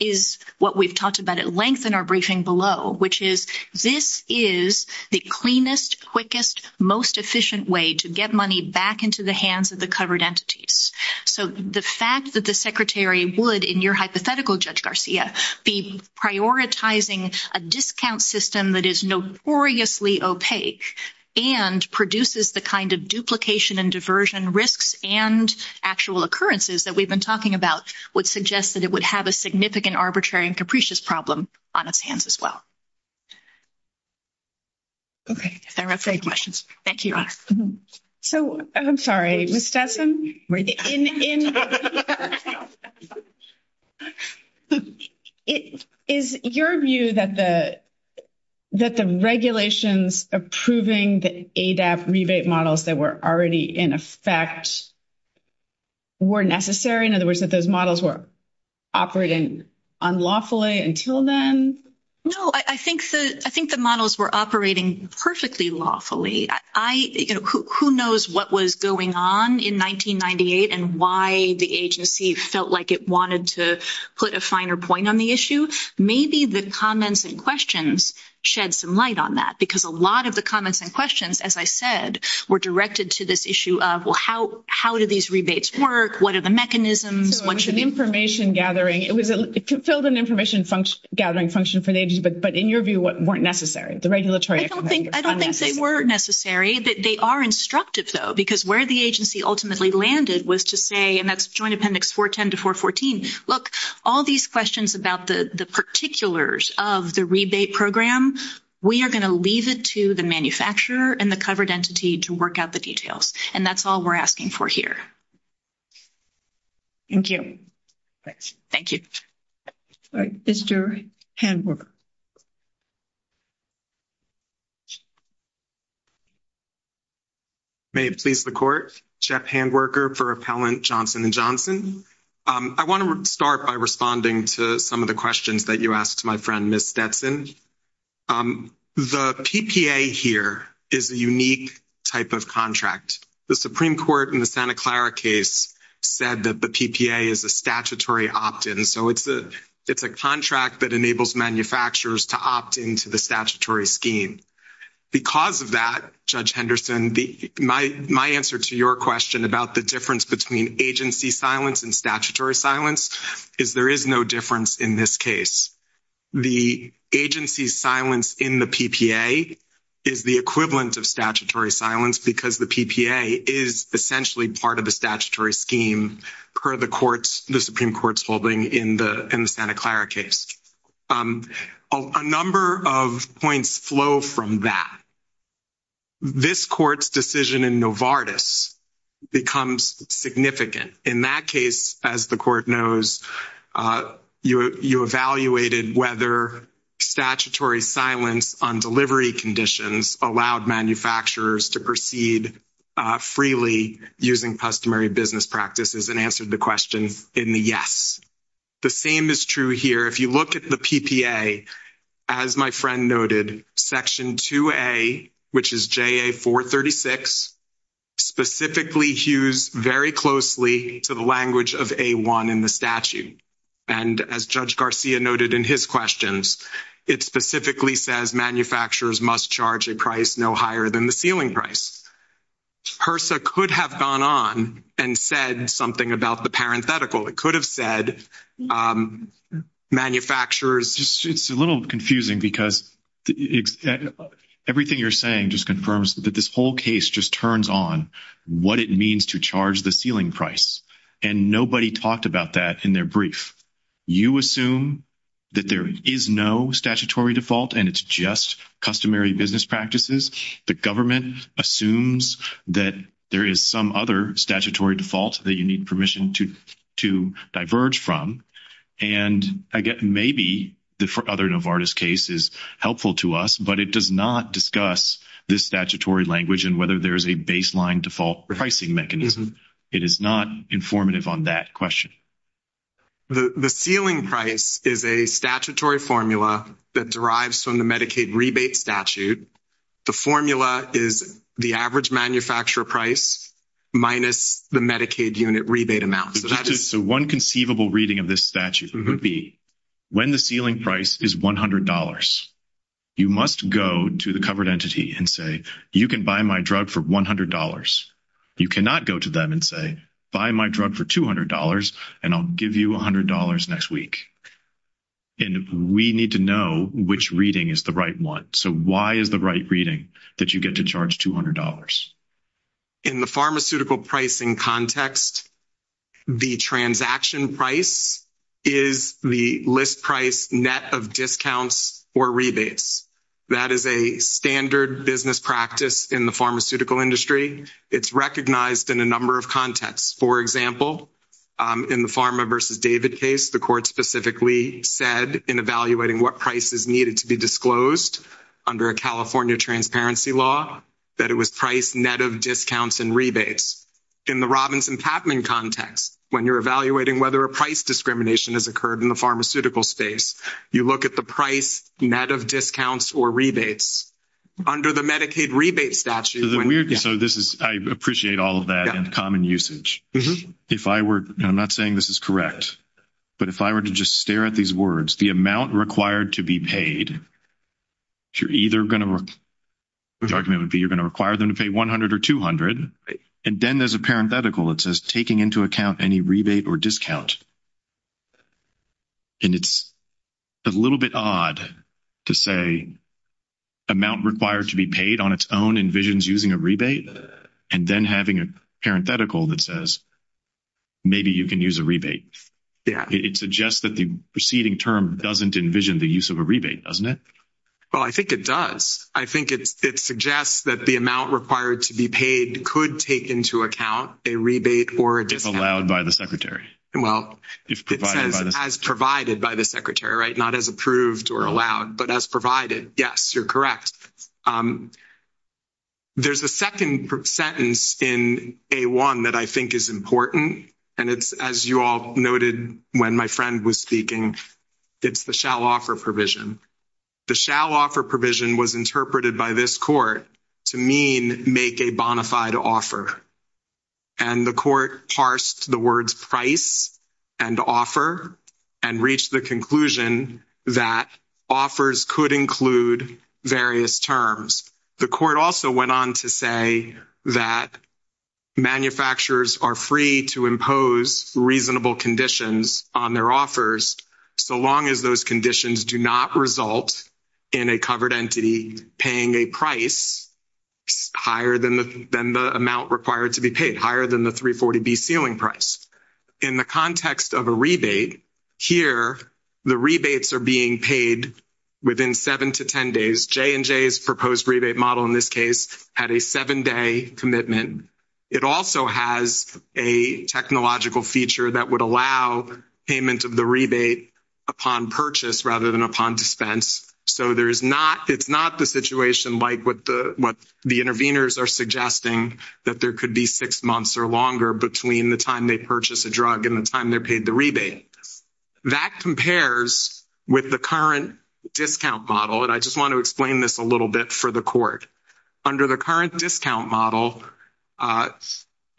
is what we've talked about at length in our briefing below, which is this is the cleanest, quickest, most efficient way to get money back into the hands of the covered entities. So the fact that the secretary would, in your hypothetical, Judge Garcia, be prioritizing a discount system that is notoriously opaque and produces the kind of duplication and diversion risks and actual occurrences that we've been talking about would suggest that it would have a significant arbitrary and capricious problem on its hands as well. Okay, thank you. So, I'm sorry, Ms. Stetson? Is your view that the regulations approving the ADAP rebate models that were already in effect were necessary? In other words, that those models were operating unlawfully until then? No, I think the models were operating perfectly lawfully. Who knows what was going on in 1998 and why the agency felt like it wanted to put a finer point on the issue? Maybe the comments and questions shed some light on that, because a lot of the comments and questions, as I said, were directed to this issue of, well, how do these rebates work? What are the mechanisms? So it was an information gathering. It fulfilled an information gathering function for the agency, but in your view, what weren't necessary? The regulatory... I don't think they were necessary. They are instructive, though, because where the agency ultimately landed was to say, and that's Joint Appendix 410 to 414, look, all these questions about the particulars of the rebate program, we are going to leave it to the manufacturer and the covered entity to work out the details. And that's all we're asking for here. Thank you. Thanks. Thank you. All right. Mr. Handwerker. May it please the Court. Jeff Handwerker for Appellant Johnson & Johnson. I want to start by responding to some of the questions that you asked my friend, Ms. Detson. The PPA here is a unique type of contract. The Supreme Court in the Santa Clara case said that the PPA is a statutory opt-in, so it's a contract that enables manufacturers to opt into the statutory scheme. Because of that, Judge Henderson, my answer to your question about the difference between agency silence and statutory silence is there is no difference in this case. The agency silence in the PPA is the equivalent of statutory silence because the PPA is essentially part of the statutory scheme per the Supreme Court's holding in the Santa Clara case. A number of points flow from that. This Court's decision in Novartis becomes significant. In that case, as the Court knows, you evaluated whether statutory silence on delivery conditions allowed manufacturers to proceed freely using customary business practices and answered the question in the yes. The same is true here. If you look at the PPA, as my friend noted, Section 2A, which is JA-436, specifically hews very closely to the language of A-1 in the statute. And as Judge Garcia noted in his questions, it specifically says manufacturers must charge a price no higher than the ceiling price. HRSA could have gone on and said something about the parenthetical. It could have said manufacturers. It's a little confusing because everything you're saying just confirms that this whole case just turns on what it means to charge the ceiling price. And nobody talked about that in their brief. You assume that there is no statutory default and it's just customary business practices. The government assumes that there is some other statutory default that you need permission to diverge from. And again, maybe the other Novartis case is helpful to us, but it does not discuss this statutory language and whether there is a baseline default pricing mechanism. It is not informative on that question. The ceiling price is a statutory formula that derives from the Medicaid rebate statute. The formula is the average manufacturer price minus the Medicaid unit rebate amount. So one conceivable reading of this statute would be when the ceiling price is $100, you must go to the covered entity and say, you can buy my drug for $100. You cannot go to them and say, buy my drug for $200 and I'll give you $100 next week. And we need to know which reading is the right one. So why is the right reading that you get to charge $200? In the pharmaceutical pricing context, the transaction price is the list price net of discounts or rebates. That is a standard business practice in the pharmaceutical industry. It's recognized in a number of contexts. For example, in the Pharma versus David case, the court specifically said in evaluating what prices needed to be disclosed under a California transparency law that it was price net of discounts and rebates. In the Robinson-Tapman context, when you're evaluating whether a price discrimination has occurred in the pharmaceutical space, you look at the price net of discounts or rebates. Under the Medicaid rebate statute. I appreciate all of that in common usage. I'm not saying this is correct. But if I were to just stare at these words, the amount required to be paid, you're either going to require them to pay $100 or $200. And then there's a parenthetical that says taking into account any rebate or discount. And it's a little bit odd to say amount required to be paid on its own envisions using a rebate. And then having a parenthetical that says maybe you can use a rebate. It suggests that the preceding term doesn't envision the use of a rebate, doesn't it? Well, I think it does. I think it suggests that the amount required to be paid could take into account a rebate or a discount. As allowed by the secretary. Well, as provided by the secretary, right? Not as approved or allowed, but as provided. Yes, you're correct. There's a second sentence in A1 that I think is important. And it's, as you all noted when my friend was speaking, it's the shall offer provision. The shall offer provision was interpreted by this court to mean make a bona fide offer. And the court parsed the words price and offer and reached the conclusion that offers could include various terms. The court also went on to say that manufacturers are free to impose reasonable conditions on their offers so long as those conditions do not result in a covered entity paying a price higher than the amount required to be paid, higher than the 340B ceiling price. In the context of a rebate, here the rebates are being paid within 7 to 10 days. J&J's proposed rebate model in this case had a 7-day commitment. It also has a technological feature that would allow payment of the rebate upon purchase rather than upon dispense. So it's not the situation like what the interveners are suggesting, that there could be six months or longer between the time they purchase a drug and the time they're paid the rebate. That compares with the current discount model, and I just want to explain this a little bit for the court. Under the current discount model,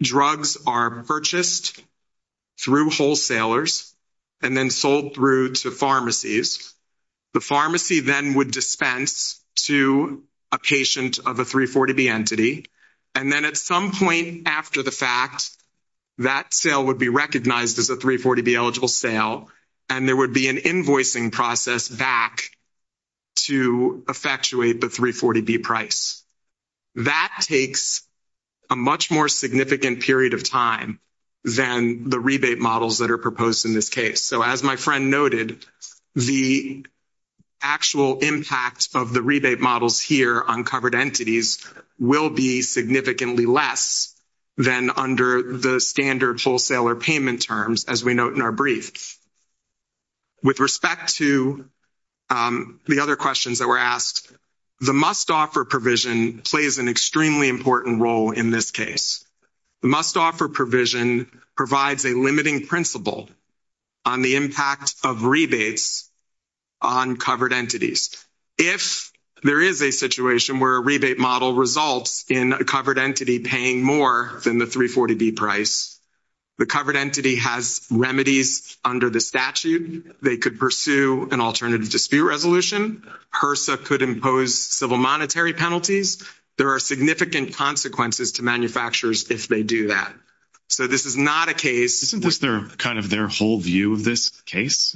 drugs are purchased through wholesalers and then sold through to pharmacies. The pharmacy then would dispense to a patient of a 340B entity, and then at some point after the fact, that sale would be recognized as a 340B eligible sale, and there would be an invoicing process back to effectuate the 340B price. That takes a much more significant period of time than the rebate models that are proposed in this case. So as my friend noted, the actual impact of the rebate models here on covered entities will be significantly less than under the standard wholesaler payment terms, as we note in our brief. With respect to the other questions that were asked, the must-offer provision plays an extremely important role in this case. The must-offer provision provides a limiting principle on the impact of rebates on covered entities. If there is a situation where a rebate model results in a covered entity paying more than the 340B price, the covered entity has remedies under the statute. They could pursue an alternative dispute resolution. HRSA could impose civil monetary penalties. There are significant consequences to manufacturers if they do that. So this is not a case— Isn't this kind of their whole view of this case?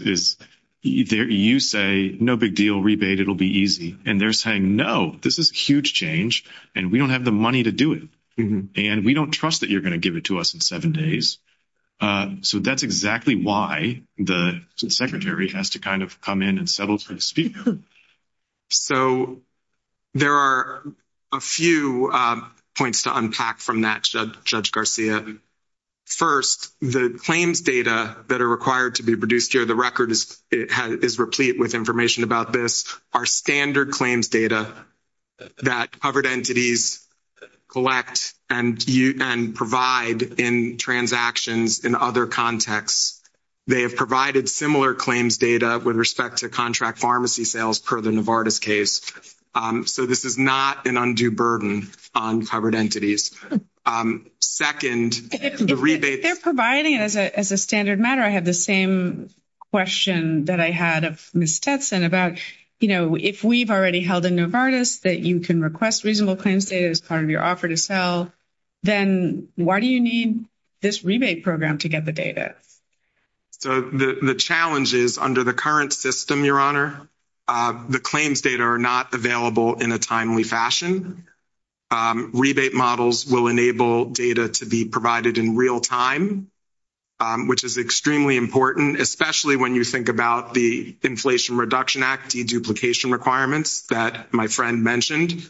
You say, no big deal, rebate, it'll be easy. And they're saying, no, this is a huge change, and we don't have the money to do it. And we don't trust that you're going to give it to us in 7 days. So that's exactly why the secretary has to kind of come in and settle the dispute. So there are a few points to unpack from that, Judge Garcia. First, the claims data that are required to be produced here, the record is replete with information about this, are standard claims data that covered entities collect and provide in transactions in other contexts. They have provided similar claims data with respect to contract pharmacy sales per the Novartis case. So this is not an undue burden on covered entities. Second, the rebate— If they're providing it as a standard matter, I had the same question that I had of Ms. Tetson about, you know, if we've already held a Novartis that you can request reasonable claims data as part of your offer to sell, then why do you need this rebate program to get the data? The challenge is under the current system, Your Honor, the claims data are not available in a timely fashion. Rebate models will enable data to be provided in real time, which is extremely important, especially when you think about the Inflation Reduction Act deduplication requirements that my friend mentioned.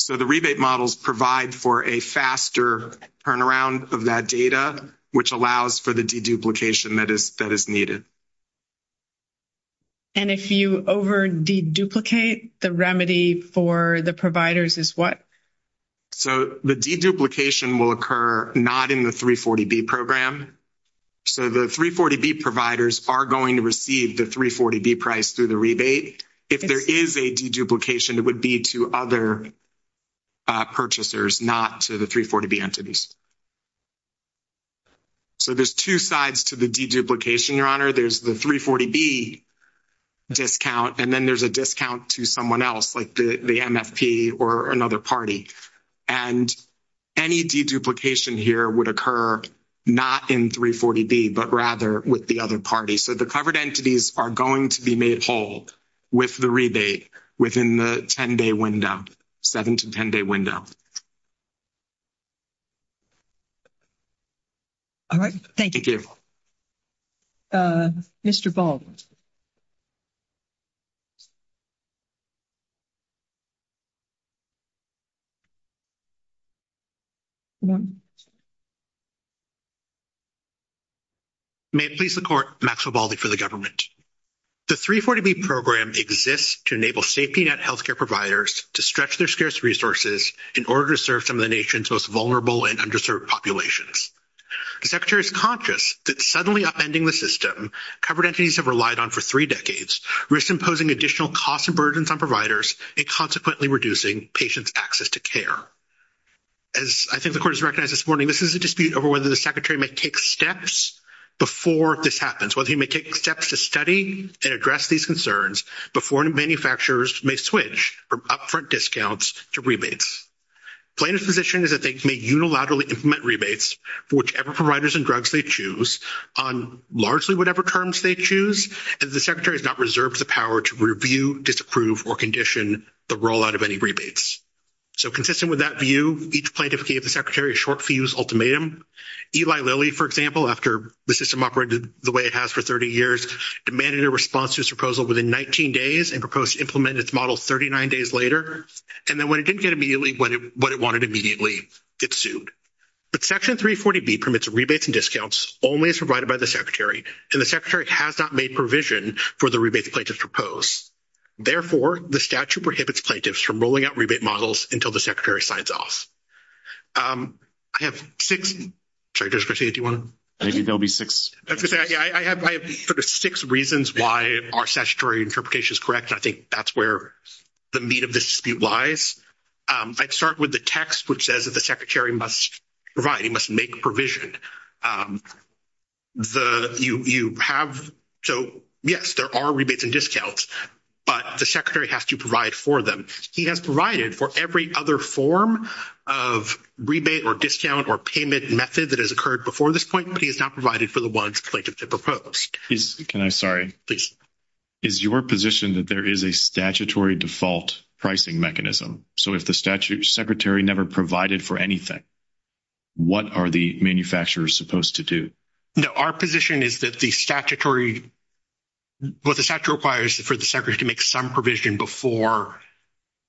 So the rebate models provide for a faster turnaround of that data, which allows for the deduplication that is needed. And if you over-deduplicate, the remedy for the providers is what? So the deduplication will occur not in the 340B program. So the 340B providers are going to receive the 340B price through the rebate. If there is a deduplication, it would be to other purchasers, not to the 340B entities. So there's two sides to the deduplication, Your Honor. There's the 340B discount, and then there's a discount to someone else, like the MFP or another party. And any deduplication here would occur not in 340B, but rather with the other party. So the covered entities are going to be made whole with the rebate within the 10-day window, 7- to 10-day window. All right. Thank you. Mr. Boldt. May it please the Court, Maxwell Boldt for the government. The 340B program exists to enable safety net healthcare providers to stretch their scarce resources in order to serve some of the nation's most vulnerable and underserved populations. The Secretary is conscious that suddenly upending the system covered entities have relied on for three decades, risk imposing additional costs and burdens on providers, and consequently reducing patients' access to care. As I think the Court has recognized this morning, this is a dispute over whether the Secretary may take steps before this happens, whether he may take steps to study and address these concerns before new manufacturers may switch from upfront discounts to rebates. Plaintiff's position is that they may unilaterally implement rebates for whichever providers and drugs they choose on largely whatever terms they choose, and the Secretary has not reserved the power to review, disapprove, or condition the rollout of any rebates. So consistent with that view, each plaintiff gave the Secretary a short-for-use ultimatum. Eli Lilly, for example, after the system operated the way it has for 30 years, demanded a response to his proposal within 19 days and proposed to implement its model 39 days later. And then when it didn't get immediately what it wanted immediately, it sued. But Section 340B permits rebates and discounts only if provided by the Secretary, and the Secretary has not made provision for the rebates plaintiffs propose. Therefore, the statute prohibits plaintiffs from rolling out rebate models until the Secretary signs off. I have six reasons why our statutory interpretation is correct. I think that's where the meat of this dispute lies. I'd start with the text, which says that the Secretary must provide, he must make provision. So, yes, there are rebates and discounts, but the Secretary has to provide for them. He has provided for every other form of rebate or discount or payment method that has occurred before this point, but he has not provided for the ones plaintiffs have proposed. Sorry. Is your position that there is a statutory default pricing mechanism? So if the Secretary never provided for anything, what are the manufacturers supposed to do? No, our position is that the statutory, what the statute requires is for the Secretary to make some provision before,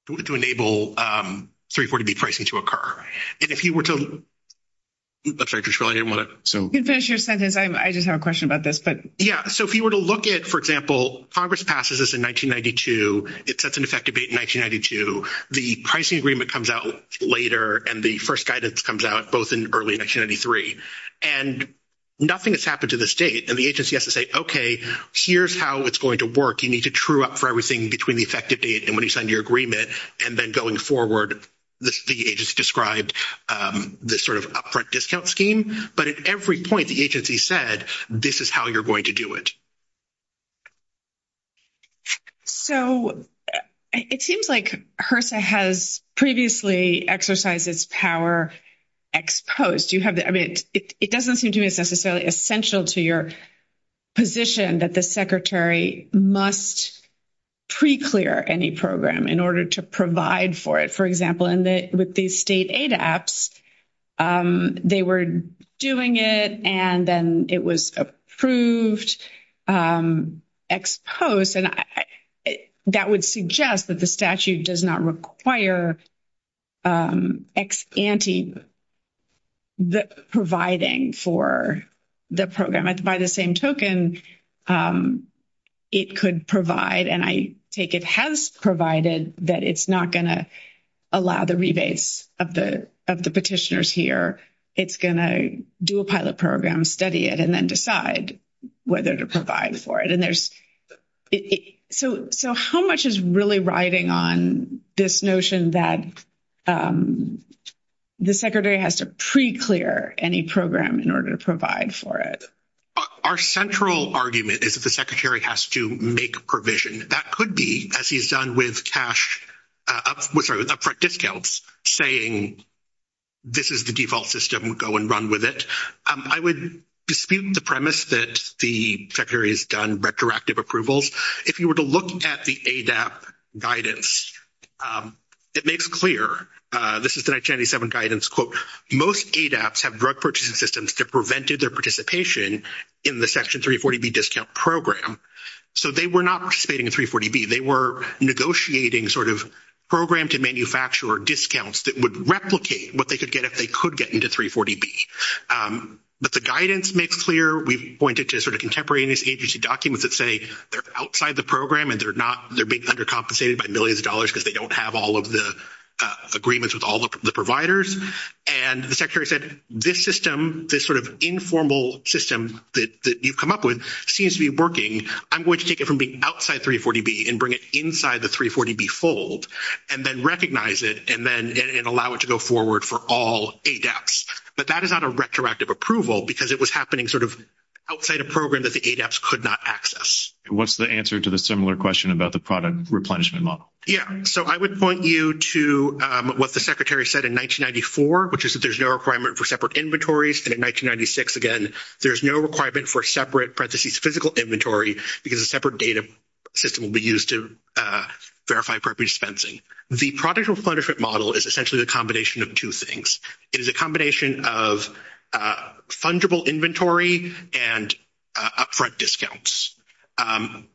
to enable 340B pricing to occur. And if you were to, I'm sorry, I didn't want to, so. You can finish your sentence. I just have a question about this, but. Yeah, so if you were to look at, for example, Congress passes this in 1992. It sets an effective date in 1992. The pricing agreement comes out later, and the first guidance comes out both in early 1993. And nothing has happened to this date, and the agency has to say, okay, here's how it's going to work. You need to true up for everything between the effective date and when you sign your agreement, and then going forward, the agency described this sort of upfront discount scheme. But at every point, the agency said, this is how you're going to do it. So it seems like HRSA has previously exercised this power ex post. I mean, it doesn't seem to be necessarily essential to your position that the Secretary must pre-clear any program in order to provide for it. For example, with the state ADAPTS, they were doing it, and then it was approved ex post. And that would suggest that the statute does not require ex ante providing for the program. And by the same token, it could provide, and I think it has provided, that it's not going to allow the rebates of the petitioners here. It's going to do a pilot program, study it, and then decide whether to provide for it. So how much is really riding on this notion that the Secretary has to pre-clear any program in order to provide for it? Our central argument is that the Secretary has to make provision. That could be, as he's done with cash, sorry, with upfront discounts, saying this is the default system, go and run with it. I would dispute the premise that the Secretary has done retroactive approvals. If you were to look at the ADAPTS guidance, it makes clear, this is the 1997 guidance, quote, most ADAPTS have direct purchasing systems that prevented their participation in the Section 340B discount program. So they were not participating in 340B. They were negotiating sort of program to manufacturer discounts that would replicate what they could get if they could get into 340B. But the guidance makes clear. We've pointed to sort of contemporary agency documents that say they're outside the program and they're being undercompensated by millions of dollars because they don't have all of the agreements with all of the providers. And the Secretary said, this system, this sort of informal system that you come up with seems to be working. I'm going to take it from being outside 340B and bring it inside the 340B fold and then recognize it and then allow it to go forward for all ADAPTS. But that is not a retroactive approval because it was happening sort of outside a program that the ADAPTS could not access. What's the answer to the similar question about the product replenishment model? Yeah. So I would point you to what the Secretary said in 1994, which is that there's no requirement for separate inventories. And in 1996, again, there's no requirement for separate, parenthesis, physical inventory because a separate data system will be used to verify property dispensing. The product replenishment model is essentially a combination of two things. It is a combination of fundable inventory and upfront discounts.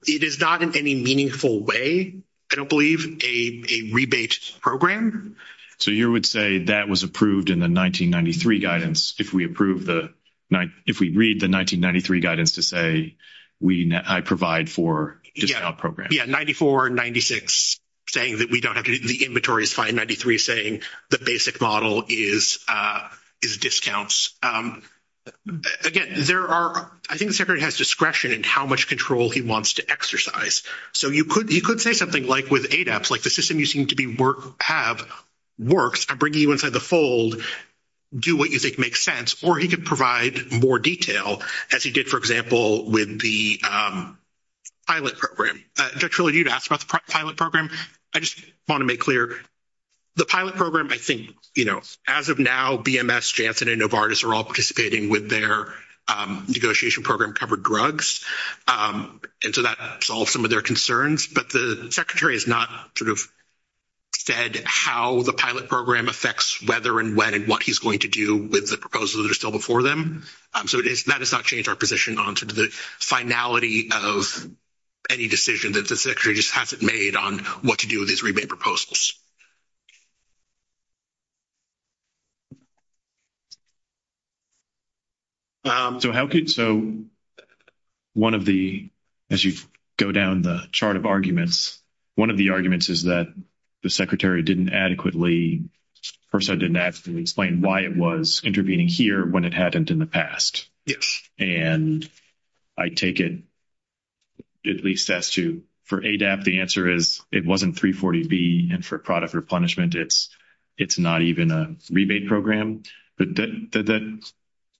It is not in any meaningful way, I don't believe, a rebates program. So you would say that was approved in the 1993 guidance. If we read the 1993 guidance to say, I provide for discount program. Yeah, 94 and 96 saying that we don't have to do the inventories, 593 saying the basic model is discounts. Again, I think the Secretary has discretion in how much control he wants to exercise. So you could say something like with ADAPTS, like the system you seem to have works, I'm bringing you inside the fold, do what you think makes sense. Or he could provide more detail, as he did, for example, with the pilot program. Victoria, you asked about the pilot program. I just want to make clear, the pilot program, I think, you know, as of now, BMS, Janssen, and Novartis are all participating with their negotiation program covered drugs. And so that solves some of their concerns. But the Secretary has not sort of said how the pilot program affects whether and when and what he's going to do with the proposals that are still before them. So that has not changed our position on sort of the finality of any decision that the Secretary just hasn't made on what to do with these rebate proposals. So how could, so one of the, as you go down the chart of arguments, one of the arguments is that the Secretary didn't adequately, first I didn't adequately explain why it was intervening here when it hadn't in the past. And I take it, at least as to, for ADAPT the answer is it wasn't 340B and for product replenishment it's not even a rebate program. But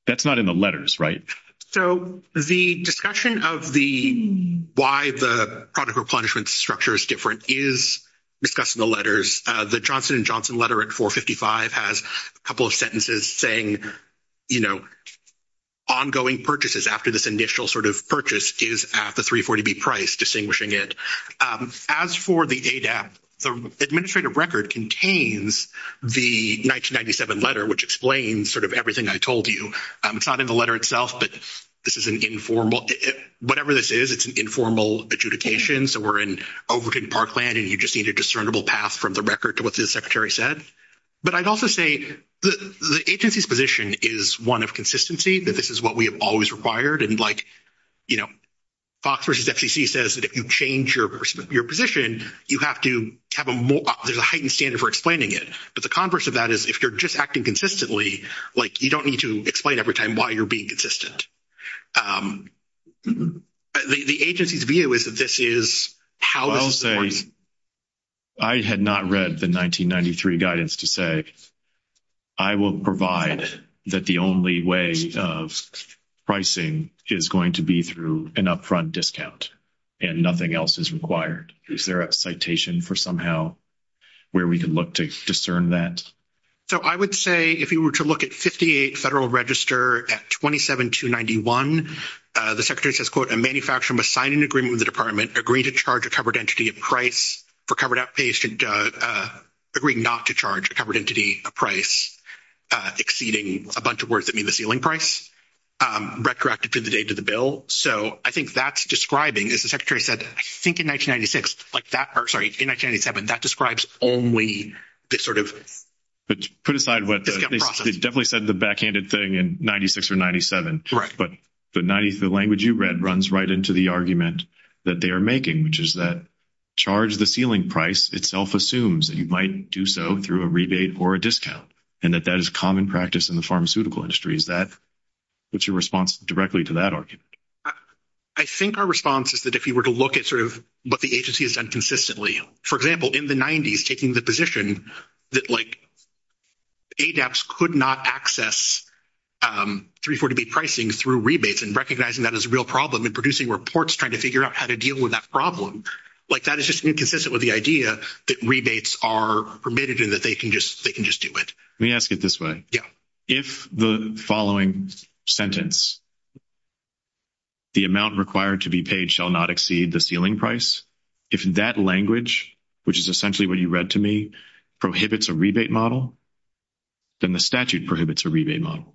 that's not in the letters, right? So the discussion of the, why the product replenishment structure is different is discussed in the letters. The Johnson & Johnson letter at 455 has a couple of sentences saying, you know, ongoing purchases after this initial sort of purchase is at the 340B price, distinguishing it. As for the ADAPT, the administrative record contains the 1997 letter, which explains sort of everything I told you. It's not in the letter itself, but this is an informal, whatever this is, it's an informal adjudication. So we're in Overton Parkland and you just need a discernible path from the record to what the Secretary said. But I'd also say the agency's position is one of consistency, that this is what we have always required. And, like, you know, FOX versus FCC says that if you change your position, you have to have a more, there's a heightened standard for explaining it. But the converse of that is if you're just acting consistently, like, you don't need to explain every time why you're being consistent. The agency's view is that this is how to support. I had not read the 1993 guidance to say, I will provide that the only way of pricing is going to be through an upfront discount and nothing else is required. Is there a citation for somehow where we can look to discern that? So I would say if you were to look at 58 Federal Register at 27291, the Secretary says, quote, the manufacturer must sign an agreement with the Department, agree to charge a covered entity a price for covered outpays, and agree not to charge a covered entity a price exceeding a bunch of words that mean the ceiling price, retroactive to the date of the bill. So I think that's describing, as the Secretary said, I think in 1996, like that part, sorry, in 1997, that describes only this sort of process. They definitely said the backhanded thing in 96 or 97. But the language you read runs right into the argument that they are making, which is that charge the ceiling price itself assumes that you might do so through a rebate or a discount, and that that is common practice in the pharmaceutical industry. Is that your response directly to that argument? I think our response is that if you were to look at sort of what the agency has done consistently, for example, in the 90s, taking the position that like ADAPS could not access 340B pricing through rebates and recognizing that as a real problem and producing reports trying to figure out how to deal with that problem, like that is just inconsistent with the idea that rebates are permitted and that they can just do it. Let me ask it this way. Yeah. If the following sentence, the amount required to be paid shall not exceed the ceiling price, if that language, which is essentially what you read to me, prohibits a rebate model, then the statute prohibits a rebate model.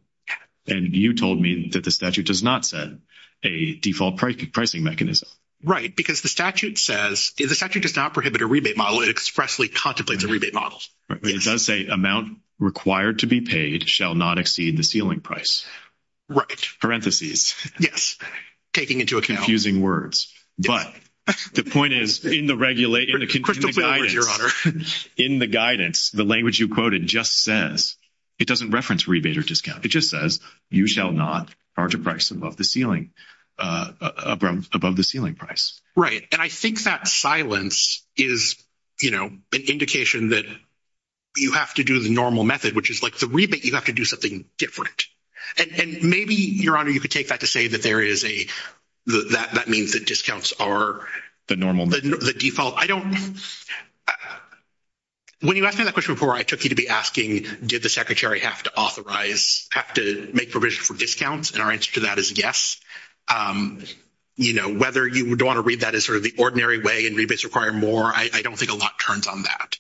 And you told me that the statute does not set a default pricing mechanism. Right. Because the statute says, the statute does not prohibit a rebate model. It expressly contemplates a rebate model. Right. But it does say amount required to be paid shall not exceed the ceiling price. Right. Parentheses. Yes. Taking into account. Confusing words. But the point is, in the guidance, the language you quoted just says, it doesn't reference rebate or discount. It just says, you shall not charge a price above the ceiling price. Right. And I think that silence is, you know, an indication that you have to do the normal method, which is like the rebate, you have to do something different. And maybe, Your Honor, you could take that to say that there is a, that means that discounts are the normal, the default. I don't, when you asked me that question before, I took you to be asking, did the Secretary have to authorize, have to make provisions for discounts? And our answer to that is yes. You know, whether you would want to read that as sort of the ordinary way and rebates require more, I don't think a lot turns on that.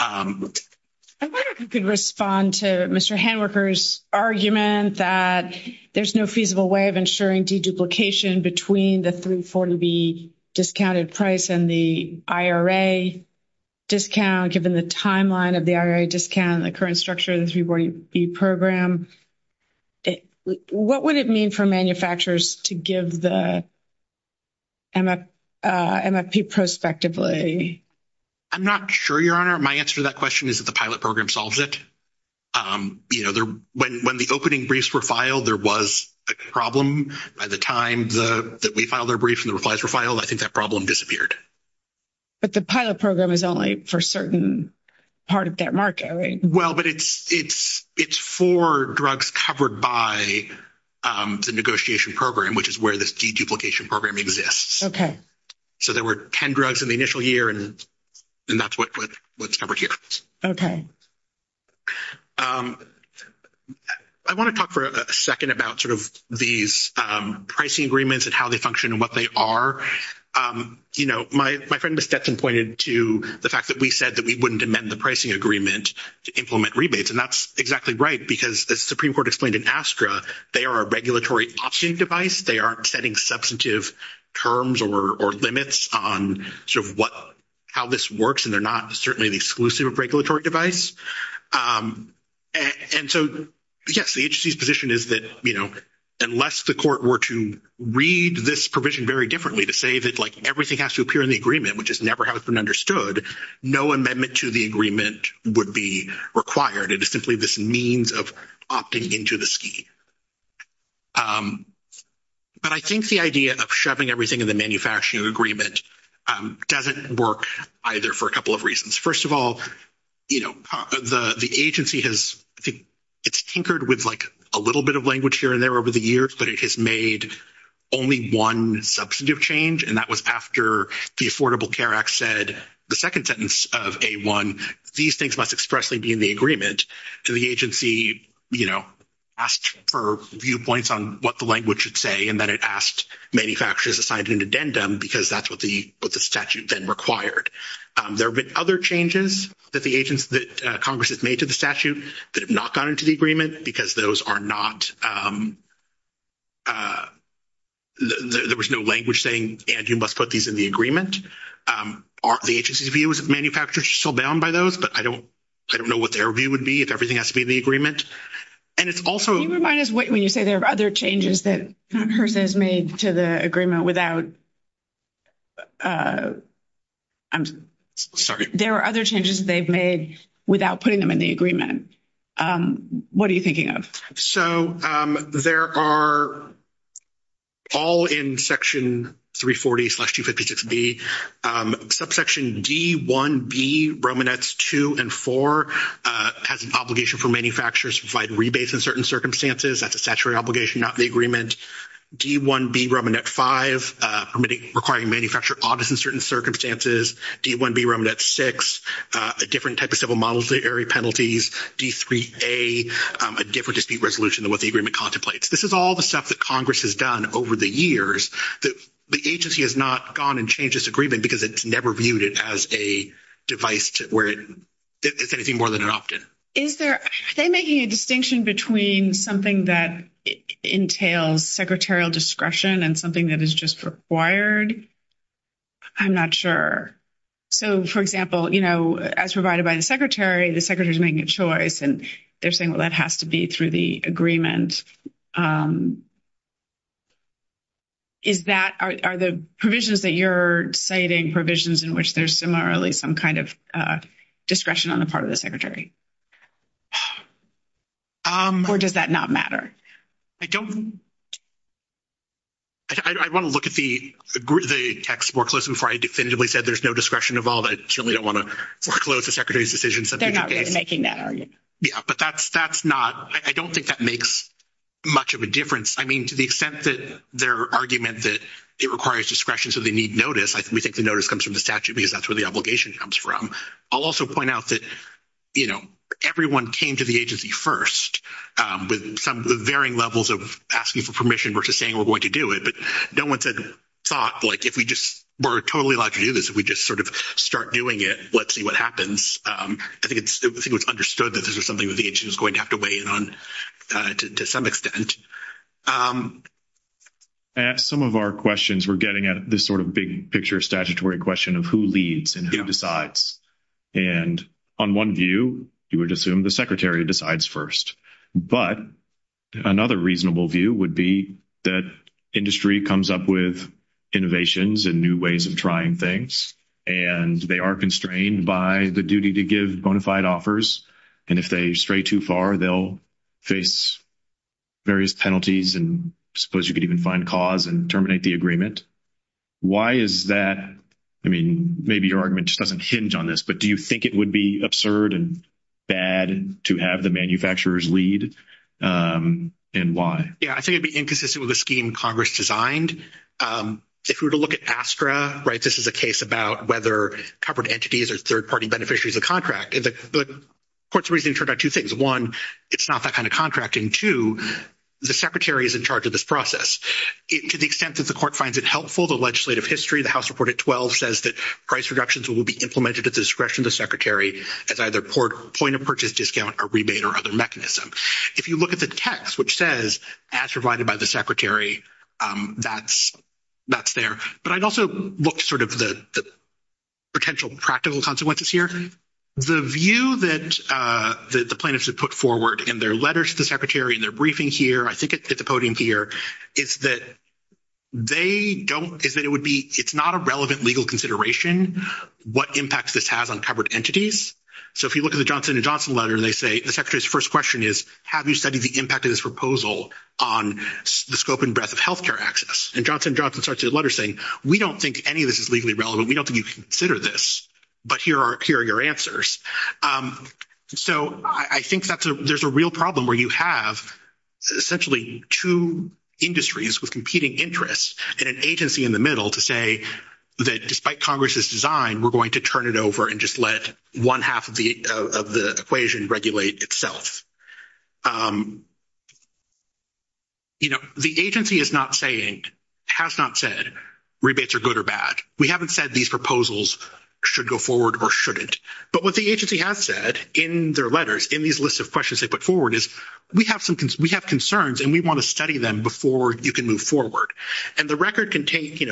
I wonder if you could respond to Mr. Handwerker's argument that there's no feasible way of ensuring deduplication between the 340B discounted price and the IRA discount, given the timeline of the IRA discount and the current structure of the 340B program. What would it mean for manufacturers to give the MFP prospectively? I'm not sure, Your Honor. My answer to that question is that the pilot program solves it. You know, when the opening briefs were filed, there was a problem. By the time that we filed our briefs and the replies were filed, I think that problem disappeared. But the pilot program is only for a certain part of that market, right? Well, but it's for drugs covered by the negotiation program, which is where this deduplication program exists. Okay. So there were 10 drugs in the initial year, and that's what's covered here. Okay. I want to talk for a second about sort of these pricing agreements and how they function and what they are. You know, my friend Ms. Stetson pointed to the fact that we said that we wouldn't amend the pricing agreement to implement rebates, and that's exactly right because, as the Supreme Court explained in ASTRA, they are a regulatory option device. They aren't setting substantive terms or limits on sort of how this works, and they're not certainly an exclusive regulatory device. And so, yes, the agency's position is that, you know, unless the court were to read this provision very differently, to say that, like, everything has to appear in the agreement, which is never has been understood, no amendment to the agreement would be required. It is simply this means of opting into the scheme. But I think the idea of shoving everything in the manufacturing agreement doesn't work either for a couple of reasons. First of all, you know, the agency has tinkered with, like, a little bit of language here and there over the years, but it has made only one substantive change, and that was after the Affordable Care Act said the second sentence of A1, these things must expressly be in the agreement. So the agency, you know, asked for viewpoints on what the language should say, and then it asked manufacturers to sign an addendum because that's what the statute then required. There have been other changes that the agency—that Congress has made to the statute that have not gone into the agreement because those are not—there was no language saying, and you must put these in the agreement. The agency's view is that manufacturers are still bound by those, but I don't know what their view would be if everything has to be in the agreement. And it's also— You remind us when you say there are other changes that Congress has made to the agreement without—I'm sorry. There are other changes they've made without putting them in the agreement. What are you thinking of? So there are all in Section 340-256B, subsection D-1B, Romanets 2 and 4, has an obligation for manufacturers to provide rebates in certain circumstances. That's a statutory obligation, not the agreement. D-1B, Romanet 5, requiring manufacturer audits in certain circumstances. D-1B, Romanet 6, a different type of civil modesty area penalties. D-3A, a different dispute resolution than what the agreement contemplates. This is all the stuff that Congress has done over the years. The agency has not gone and changed this agreement because it's never viewed it as a device where it's anything more than an opt-in. Is there—are they making a distinction between something that entails secretarial discretion and something that is just required? I'm not sure. So, for example, you know, as provided by the secretary, the secretary's making a choice, and they're saying, well, that has to be through the agreement. Is that—are the provisions that you're citing provisions in which there's similarly some kind of discretion on the part of the secretary? Or does that not matter? I don't—I want to look at the text more closely before I definitively said there's no discretion involved. I certainly don't want to foreclose the secretary's decision. They're not really making that argument. Yeah, but that's not—I don't think that makes much of a difference. I mean, to the extent that their argument that it requires discretion so they need notice, we think the notice comes from the statute because that's where the obligation comes from. I'll also point out that, you know, everyone came to the agency first with some varying levels of asking for permission versus saying we're going to do it. But no one said—thought, like, if we just—we're totally allowed to do this. If we just sort of start doing it, let's see what happens. I think it's understood that this is something that the agency is going to have to weigh in on to some extent. Some of our questions were getting at this sort of big picture statutory question of who leads and who decides. And on one view, you would assume the secretary decides first. But another reasonable view would be that industry comes up with innovations and new ways of trying things, and they are constrained by the duty to give bona fide offers. And if they stray too far, they'll face various penalties, and I suppose you could even find cause and terminate the agreement. Why is that? I mean, maybe your argument just doesn't hinge on this, but do you think it would be absurd and bad to have the manufacturers lead, and why? Yeah, I think it would be inconsistent with the scheme Congress designed. If we were to look at ASTRA, right, this is a case about whether corporate entities or third-party beneficiaries of the contract, the court's reasoning turned out two things. One, it's not that kind of contract, and two, the secretary is in charge of this process. To the extent that the court finds it helpful, the legislative history, the House Report at 12 says that price reductions will be implemented at the discretion of the secretary as either point-of-purchase discount or rebate or other mechanism. If you look at the text, which says, as provided by the secretary, that's there. But I'd also look to sort of the potential practical consequences here. The view that the plaintiffs have put forward in their letter to the secretary, in their briefing here, I think it's at the podium here, is that it's not a relevant legal consideration what impact this has on covered entities. So if you look at the Johnson & Johnson letter, they say the secretary's first question is, have you studied the impact of this proposal on the scope and breadth of health care access? And Johnson & Johnson starts their letter saying, we don't think any of this is legally relevant. We don't think you should consider this. But here are your answers. So I think there's a real problem where you have essentially two industries with competing interests and an agency in the middle to say that despite Congress's design, we're going to turn it over and just let one half of the equation regulate itself. You know, the agency is not saying, has not said rebates are good or bad. We haven't said these proposals should go forward or shouldn't. But what the agency has said in their letters, in these lists of questions they put forward, is we have concerns and we want to study them before you can move forward. And the record contains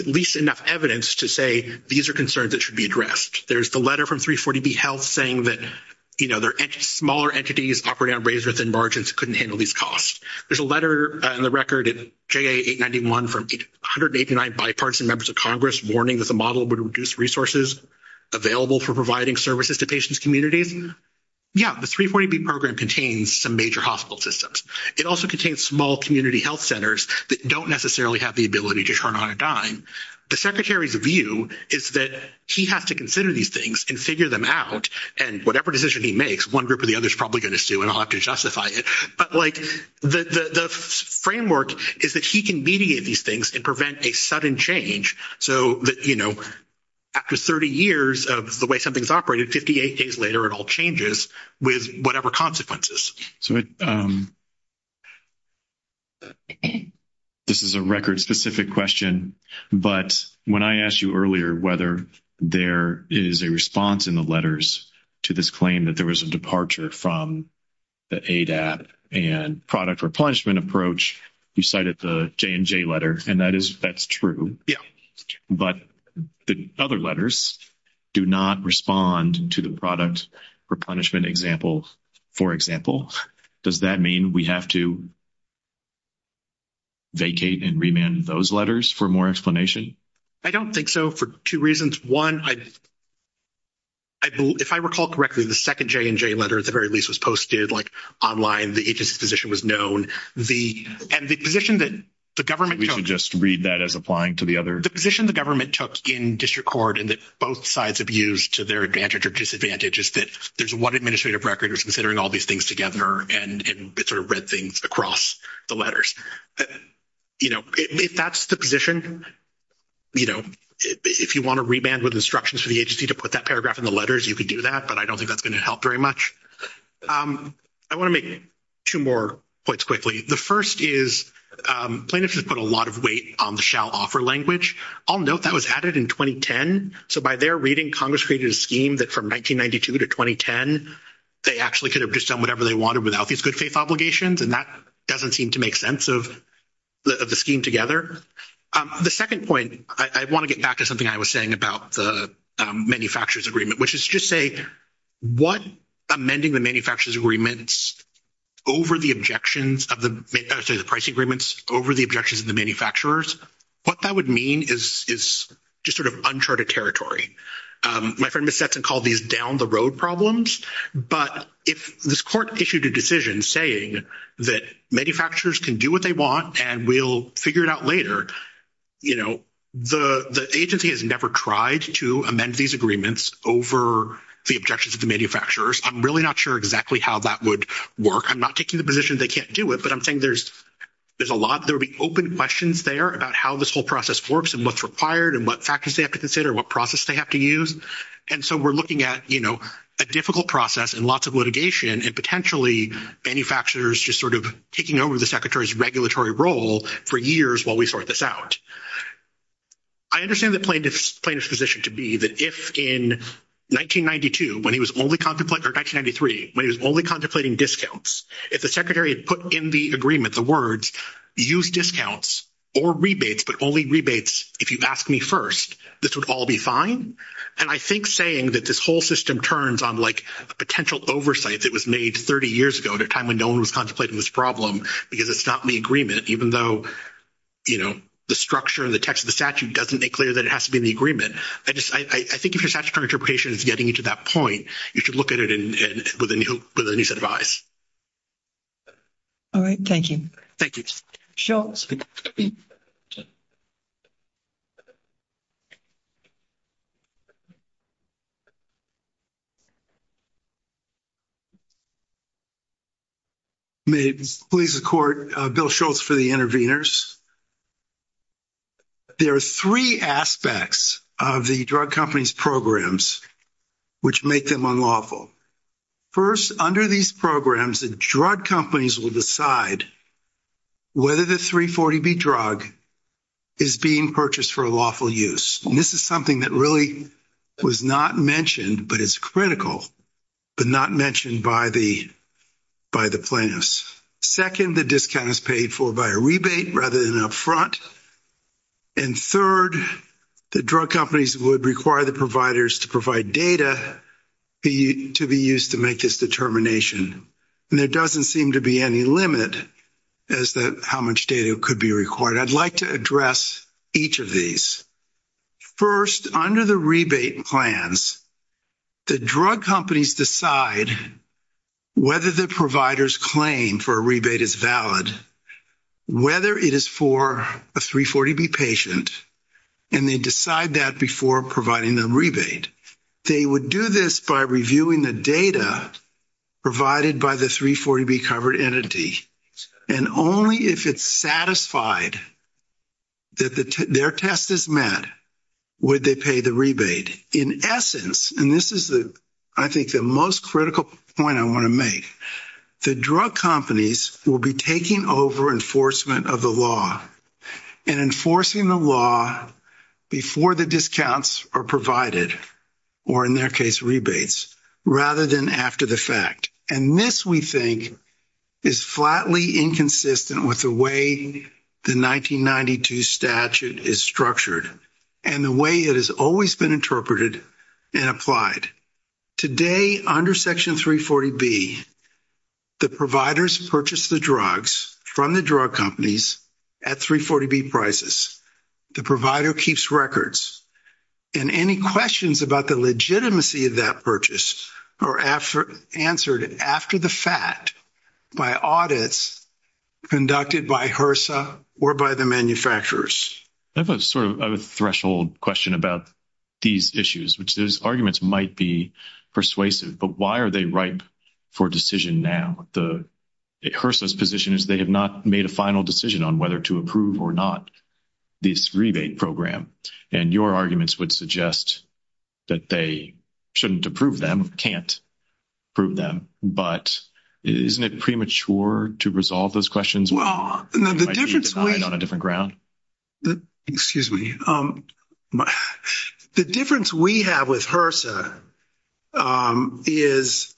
at least enough evidence to say these are concerns that should be addressed. There's the letter from 340B Health saying that, you know, there are smaller entities operating at rates within margins that couldn't handle these costs. There's a letter in the record at JA891 from 189 bipartisan members of Congress warning that the model would reduce resources available for providing services to patients' communities. Yeah, the 340B program contains some major hospital systems. It also contains small community health centers that don't necessarily have the ability to turn on a dime. The Secretary's view is that he has to consider these things and figure them out. And whatever decision he makes, one group or the other is probably going to sue and I'll have to justify it. But, like, the framework is that he can mediate these things and prevent a sudden change. So that, you know, after 30 years of the way something's operated, 58 days later it all changes with whatever consequences. So this is a record-specific question, but when I asked you earlier whether there is a response in the letters to this claim that there was a departure from the ADAP and product replenishment approach, you cited the J&J letter, and that's true. Yeah. But the other letters do not respond to the product replenishment example, for example. Does that mean we have to vacate and remand those letters for more explanation? I don't think so, for two reasons. One, if I recall correctly, the second J&J letter, at the very least, was posted, like, online. The agency position was known. And the position that the government took- We should just read that as applying to the other- The position the government took in district court and that both sides have used to their advantage or disadvantage is that there's one administrative record that's considering all these things together and it sort of read things across the letters. You know, if that's the position, you know, if you want to remand with instructions for the agency to put that paragraph in the letters, you could do that, but I don't think that's going to help very much. I want to make two more points quickly. The first is plaintiffs have put a lot of weight on the shall offer language. I'll note that was added in 2010. So by their reading, Congress created a scheme that from 1992 to 2010, they actually could have just done whatever they wanted without these good faith obligations, and that doesn't seem to make sense of the scheme together. The second point, I want to get back to something I was saying about the manufacturers agreement, which is to just say what amending the manufacturers agreements over the objections of the- I'm sorry, the pricing agreements over the objections of the manufacturers, what that would mean is just sort of uncharted territory. My friend Ms. Sefton called these down-the-road problems, but if this court issued a decision saying that manufacturers can do what they want and we'll figure it out later, you know, the agency has never tried to amend these agreements over the objections of the manufacturers. I'm really not sure exactly how that would work. I'm not taking the position they can't do it, but I'm saying there's a lot- there would be open questions there about how this whole process works and what's required and what factors they have to consider, what process they have to use. And so we're looking at, you know, a difficult process and lots of litigation and potentially manufacturers just sort of taking over the secretary's regulatory role for years while we sort this out. I understand the plaintiff's position to be that if in 1992, when he was only contemplating- or 1993, when he was only contemplating discounts, if the secretary had put in the agreement the words, use discounts or rebates, but only rebates if you've asked me first, this would all be fine. And I think saying that this whole system turns on like a potential oversight that was made 30 years ago at a time when no one was contemplating this problem because it's not in the agreement, even though, you know, the structure and the text of the statute doesn't make clear that it has to be in the agreement. I just-I think if your statutory interpretation is getting to that point, you should look at it with a new set of eyes. All right. Thank you. Thank you. Bill Shultz. May it please the court, Bill Shultz for the interveners. There are three aspects of the drug company's programs which make them unlawful. First, under these programs, the drug companies will decide whether the 340B drug is being purchased for lawful use. And this is something that really was not mentioned, but is critical, but not mentioned by the plaintiffs. Second, the discount is paid for by a rebate rather than upfront. And third, the drug companies would require the providers to provide data to be used to make this determination. And there doesn't seem to be any limit as to how much data could be required. I'd like to address each of these. First, under the rebate plans, the drug companies decide whether the provider's claim for a rebate is valid, whether it is for a 340B patient, and they decide that before providing the rebate. They would do this by reviewing the data provided by the 340B covered entity. And only if it's satisfied that their test is met would they pay the rebate. In essence, and this is, I think, the most critical point I want to make, the drug companies will be taking over enforcement of the law and enforcing the law before the discounts are provided, or in their case rebates, rather than after the fact. And this, we think, is flatly inconsistent with the way the 1992 statute is structured and the way it has always been interpreted and applied. Today, under Section 340B, the providers purchase the drugs from the drug companies at 340B prices. The provider keeps records. And any questions about the legitimacy of that purchase are answered after the fact by audits conducted by HRSA or by the manufacturers. I have a sort of threshold question about these issues. These arguments might be persuasive, but why are they ripe for decision now? HRSA's position is they have not made a final decision on whether to approve or not this rebate program. And your arguments would suggest that they shouldn't approve them, can't approve them. But isn't it premature to resolve those questions? Well, the difference we have with HRSA is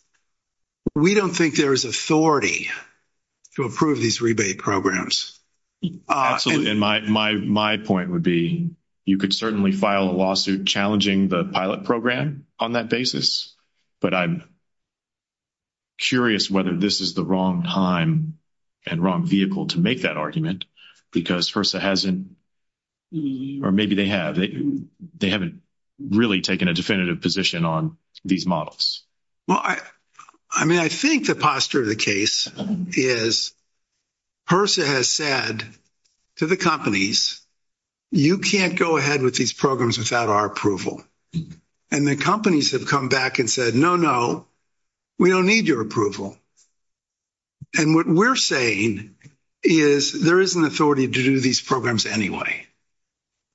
we don't think there is authority to approve these rebate programs. Absolutely. And my point would be you could certainly file a lawsuit challenging the pilot program on that basis. But I'm curious whether this is the wrong time and wrong vehicle to make that argument, because HRSA hasn't – or maybe they have. They haven't really taken a definitive position on these models. Well, I mean, I think the posture of the case is HRSA has said to the companies, you can't go ahead with these programs without our approval. And the companies have come back and said, no, no, we don't need your approval. And what we're saying is there is an authority to do these programs anyway.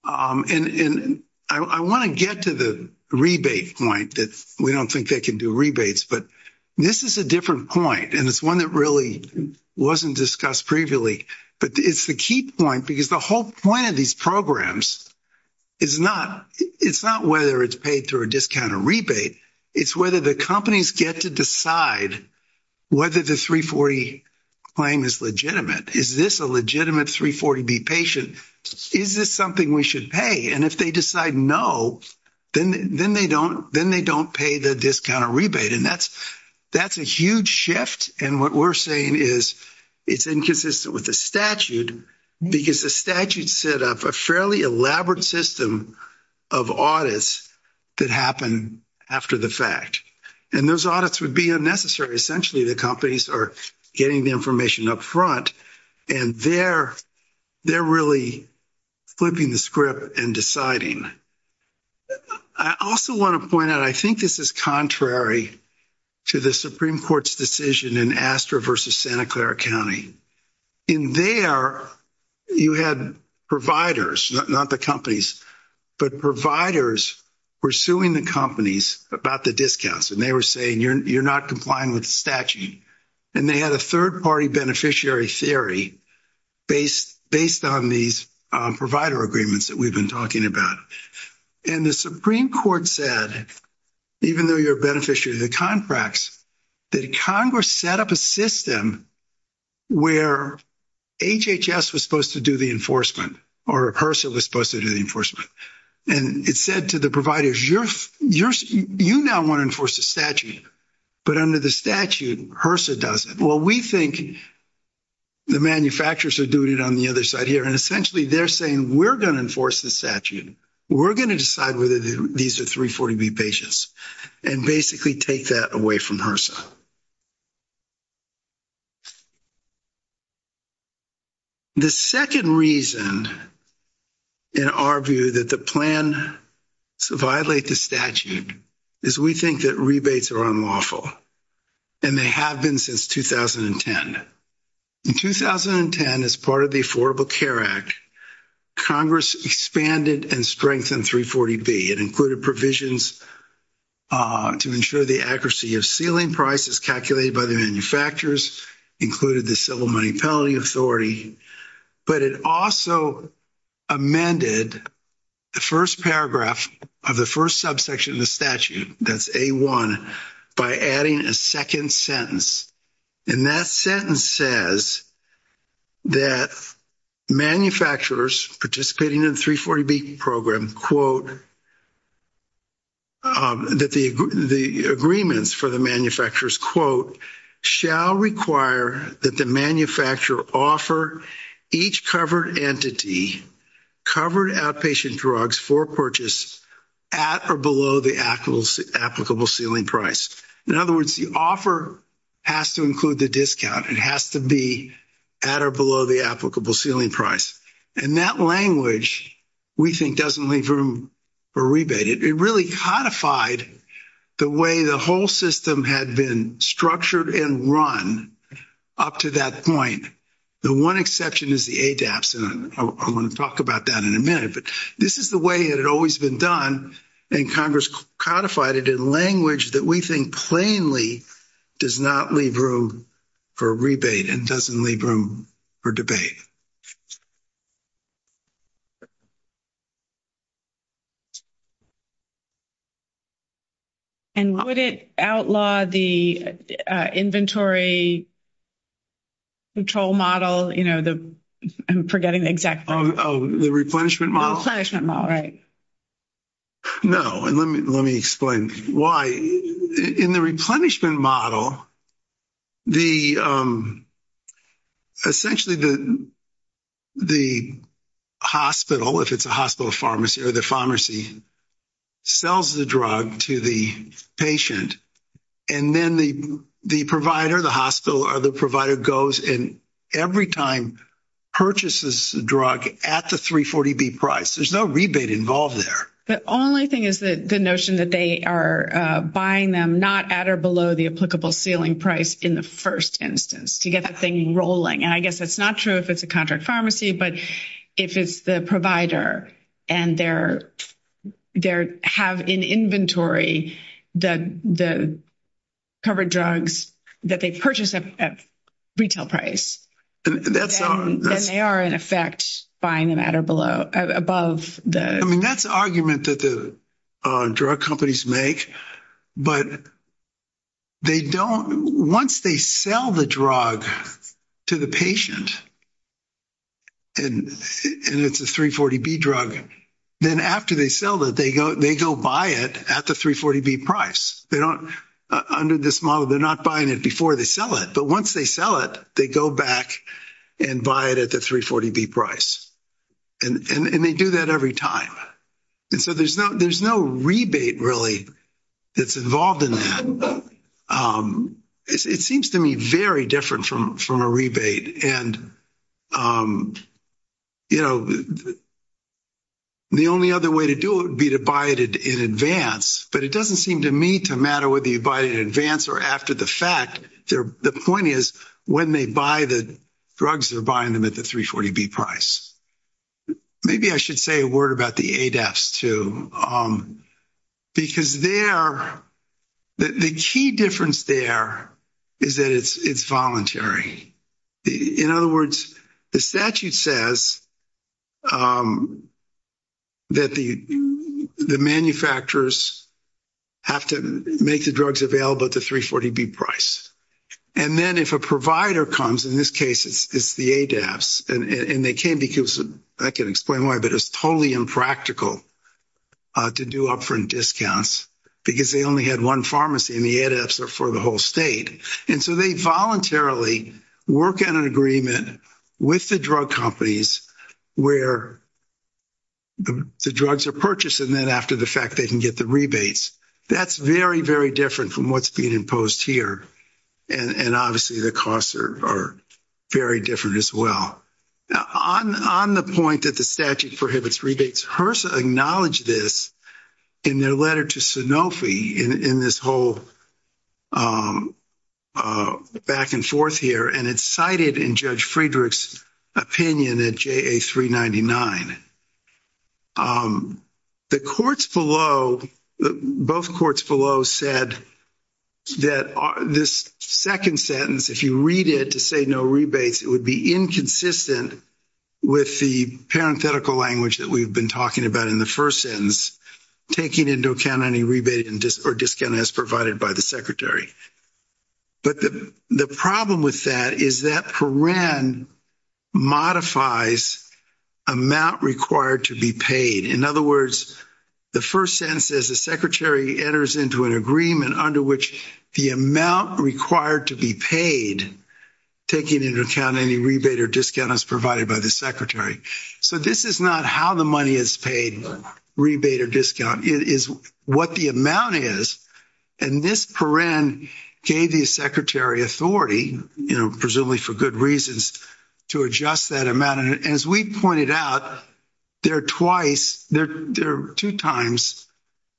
And I want to get to the rebate point, that we don't think they can do rebates. But this is a different point, and it's one that really wasn't discussed previously. But it's the key point, because the whole point of these programs is not whether it's paid through a discount or rebate. It's whether the companies get to decide whether the 340 claim is legitimate. Is this a legitimate 340B patient? Is this something we should pay? And if they decide no, then they don't pay the discount or rebate. And that's a huge shift. And what we're saying is it's inconsistent with the statute, because the statute set up a fairly elaborate system of audits that happen after the fact. And those audits would be unnecessary. Essentially, the companies are getting the information up front, and they're really flipping the script and deciding. I also want to point out, I think this is contrary to the Supreme Court's decision in Astor v. Santa Clara County. In there, you had providers, not the companies, but providers pursuing the companies about the discounts. And they were saying, you're not complying with the statute. And they had a third-party beneficiary theory based on these provider agreements that we've been talking about. And the Supreme Court said, even though you're a beneficiary of the contracts, that Congress set up a system where HHS was supposed to do the enforcement, or HRSA was supposed to do the enforcement. And it said to the providers, you now want to enforce the statute. But under the statute, HRSA doesn't. Well, we think the manufacturers are doing it on the other side here. And essentially, they're saying, we're going to enforce the statute. We're going to decide whether these are 340B patients and basically take that away from HRSA. The second reason, in our view, that the plan violates the statute is we think that rebates are unlawful. And they have been since 2010. In 2010, as part of the Affordable Care Act, Congress expanded and strengthened 340B. It included provisions to ensure the accuracy of ceiling prices calculated by the manufacturers, included the Civil Money Penalty Authority. But it also amended the first paragraph of the first subsection of the statute, that's A1, by adding a second sentence. And that sentence says that manufacturers participating in the 340B program, quote, that the agreements for the manufacturers, quote, shall require that the manufacturer offer each covered entity covered outpatient drugs for purchase at or below the applicable ceiling price. In other words, the offer has to include the discount. It has to be at or below the applicable ceiling price. And that language, we think, doesn't leave room for rebate. It really codified the way the whole system had been structured and run up to that point. The one exception is the ADAPS, and I'm going to talk about that in a minute. But this is the way it had always been done, and Congress codified it in language that we think plainly does not leave room for rebate and doesn't leave room for debate. And would it outlaw the inventory control model, you know, the, I'm forgetting the exact name. Oh, the replenishment model? Replenishment model, right. No, and let me explain why. In the replenishment model, the, essentially the hospital, if it's a hospital pharmacy, or the pharmacy sells the drug to the patient, and then the provider, the hospital, or the provider goes and every time purchases the drug at the 340B price. There's no rebate involved there. The only thing is the notion that they are buying them not at or below the applicable ceiling price in the first instance to get that thing rolling. And I guess that's not true if it's a contract pharmacy, but if it's the provider and they have in inventory the covered drugs that they purchase at retail price, then they are in effect buying them at or above the. I mean, that's an argument that the drug companies make, but they don't, once they sell the drug to the patient, and it's a 340B drug, then after they sell it, they go buy it at the 340B price. They don't, under this model, they're not buying it before they sell it, but once they sell it, they go back and buy it at the 340B price. And they do that every time. And so there's no rebate really that's involved in that. It seems to me very different from a rebate. And, you know, the only other way to do it would be to buy it in advance, but it doesn't seem to me to matter whether you buy it in advance or after the fact. The point is when they buy the drugs, they're buying them at the 340B price. Maybe I should say a word about the ADEFs too, because they are, the key difference there is that it's voluntary. In other words, the statute says that the manufacturers have to make the drugs available at the 340B price. And then if a provider comes, in this case it's the ADEFs, and they can't because, I can't explain why, but it's totally impractical to do upfront discounts, because they only had one pharmacy and the ADEFs were for the whole state. And so they voluntarily work on an agreement with the drug companies where the drugs are purchased and then after the fact they can get the rebates. That's very, very different from what's being imposed here. And obviously the costs are very different as well. On the point that the statute prohibits rebates, HRSA acknowledged this in their letter to Sanofi, in this whole back and forth here, and it's cited in Judge Friedrich's opinion at JA399. The courts below, both courts below said that this second sentence, if you read it to say no rebates it would be inconsistent with the parenthetical language that we've been talking about in the first sentence, taking into account any rebate or discount as provided by the secretary. But the problem with that is that paren modifies amount required to be paid. In other words, the first sentence is the secretary enters into an agreement under which the amount required to be paid, taking into account any rebate or discount as provided by the secretary. So this is not how the money is paid, rebate or discount. It is what the amount is. And this paren gave the secretary authority, you know, presumably for good reasons, to adjust that amount. And as we pointed out, there are twice, there are two times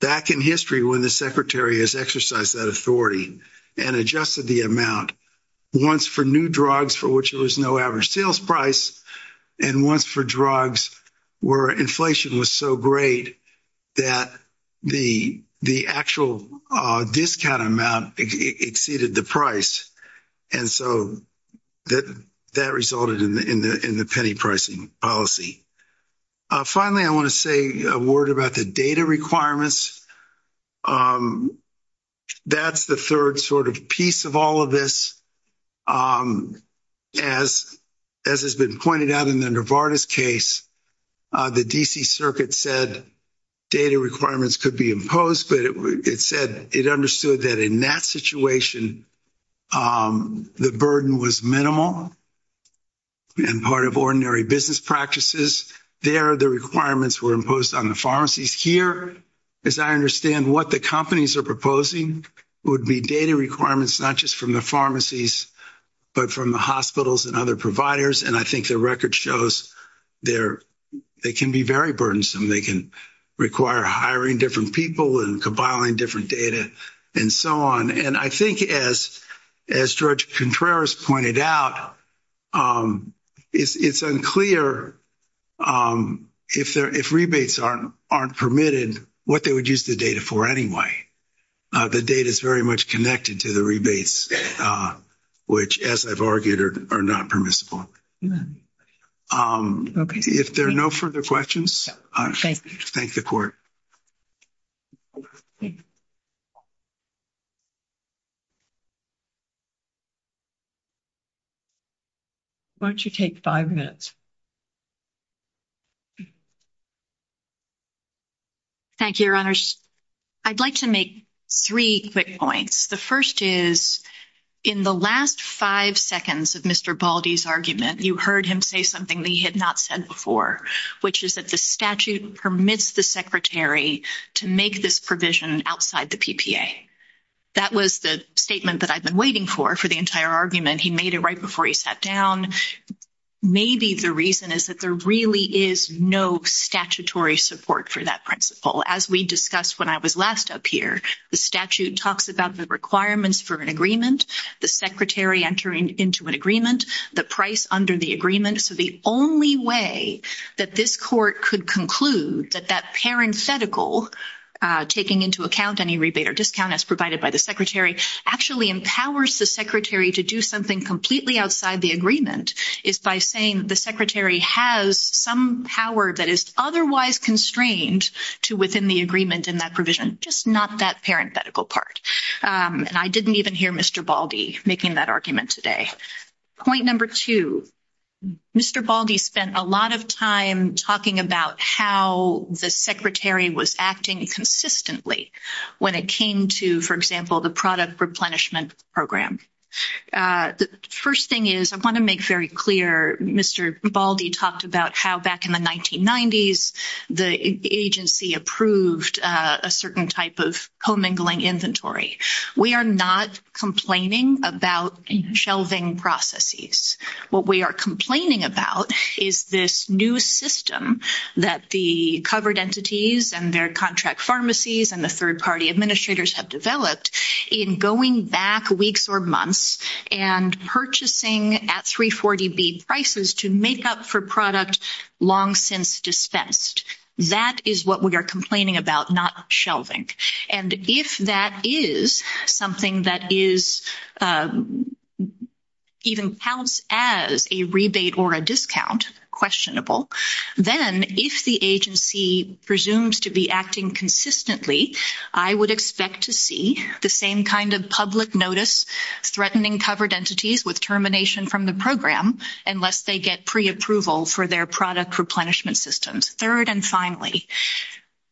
back in history when the secretary has exercised that authority and adjusted the amount. Once for new drugs for which there was no average sales price, and once for drugs where inflation was so great that the actual discount amount exceeded the price. And so that resulted in the penny pricing policy. Finally, I want to say a word about the data requirements. That's the third sort of piece of all of this. As has been pointed out in the Novartis case, the D.C. Circuit said data requirements could be imposed, but it said it understood that in that situation the burden was minimal and part of ordinary business practices. There the requirements were imposed on the pharmacies. Here, as I understand what the companies are proposing, would be data requirements not just from the pharmacies, but from the hospitals and other providers. And I think the record shows they can be very burdensome. They can require hiring different people and compiling different data and so on. And I think as George Contreras pointed out, it's unclear if rebates aren't permitted what they would use the data for anyway. The data is very much connected to the rebates, which, as I've argued, are not permissible. If there are no further questions, I thank the court. Why don't you take five minutes? Thank you, Your Honors. I'd like to make three quick points. The first is, in the last five seconds of Mr. Baldy's argument, you heard him say something that he had not said before, which is that the statute permits the secretary to make this provision outside the PPA. That was the statement that I'd been waiting for for the entire argument. He made it right before he sat down. Maybe the reason is that there really is no statutory support for that principle. As we discussed when I was last up here, the statute talks about the requirements for an agreement, the secretary entering into an agreement, the price under the agreement. So the only way that this court could conclude that that parenthetical, taking into account any rebate or discount as provided by the secretary, actually empowers the secretary to do something completely outside the agreement is by saying the secretary has some power that is otherwise constrained to within the agreement in that provision, just not that parenthetical part. And I didn't even hear Mr. Baldy making that argument today. Point number two, Mr. Baldy spent a lot of time talking about how the secretary was acting consistently when it came to, for example, the product replenishment program. The first thing is I want to make very clear Mr. Baldy talked about how back in the 1990s, the agency approved a certain type of commingling inventory. We are not complaining about shelving processes. What we are complaining about is this new system that the covered entities and their contract pharmacies and the third party administrators have developed in going back weeks or months and purchasing at 340B prices to make up for products long since dispensed. That is what we are complaining about, not shelving. And if that is something that is even housed as a rebate or a discount, questionable, then if the agency presumes to be acting consistently, I would expect to see the same kind of public notice threatening covered entities with termination from the program unless they get preapproval for their product replenishment systems. Third and finally,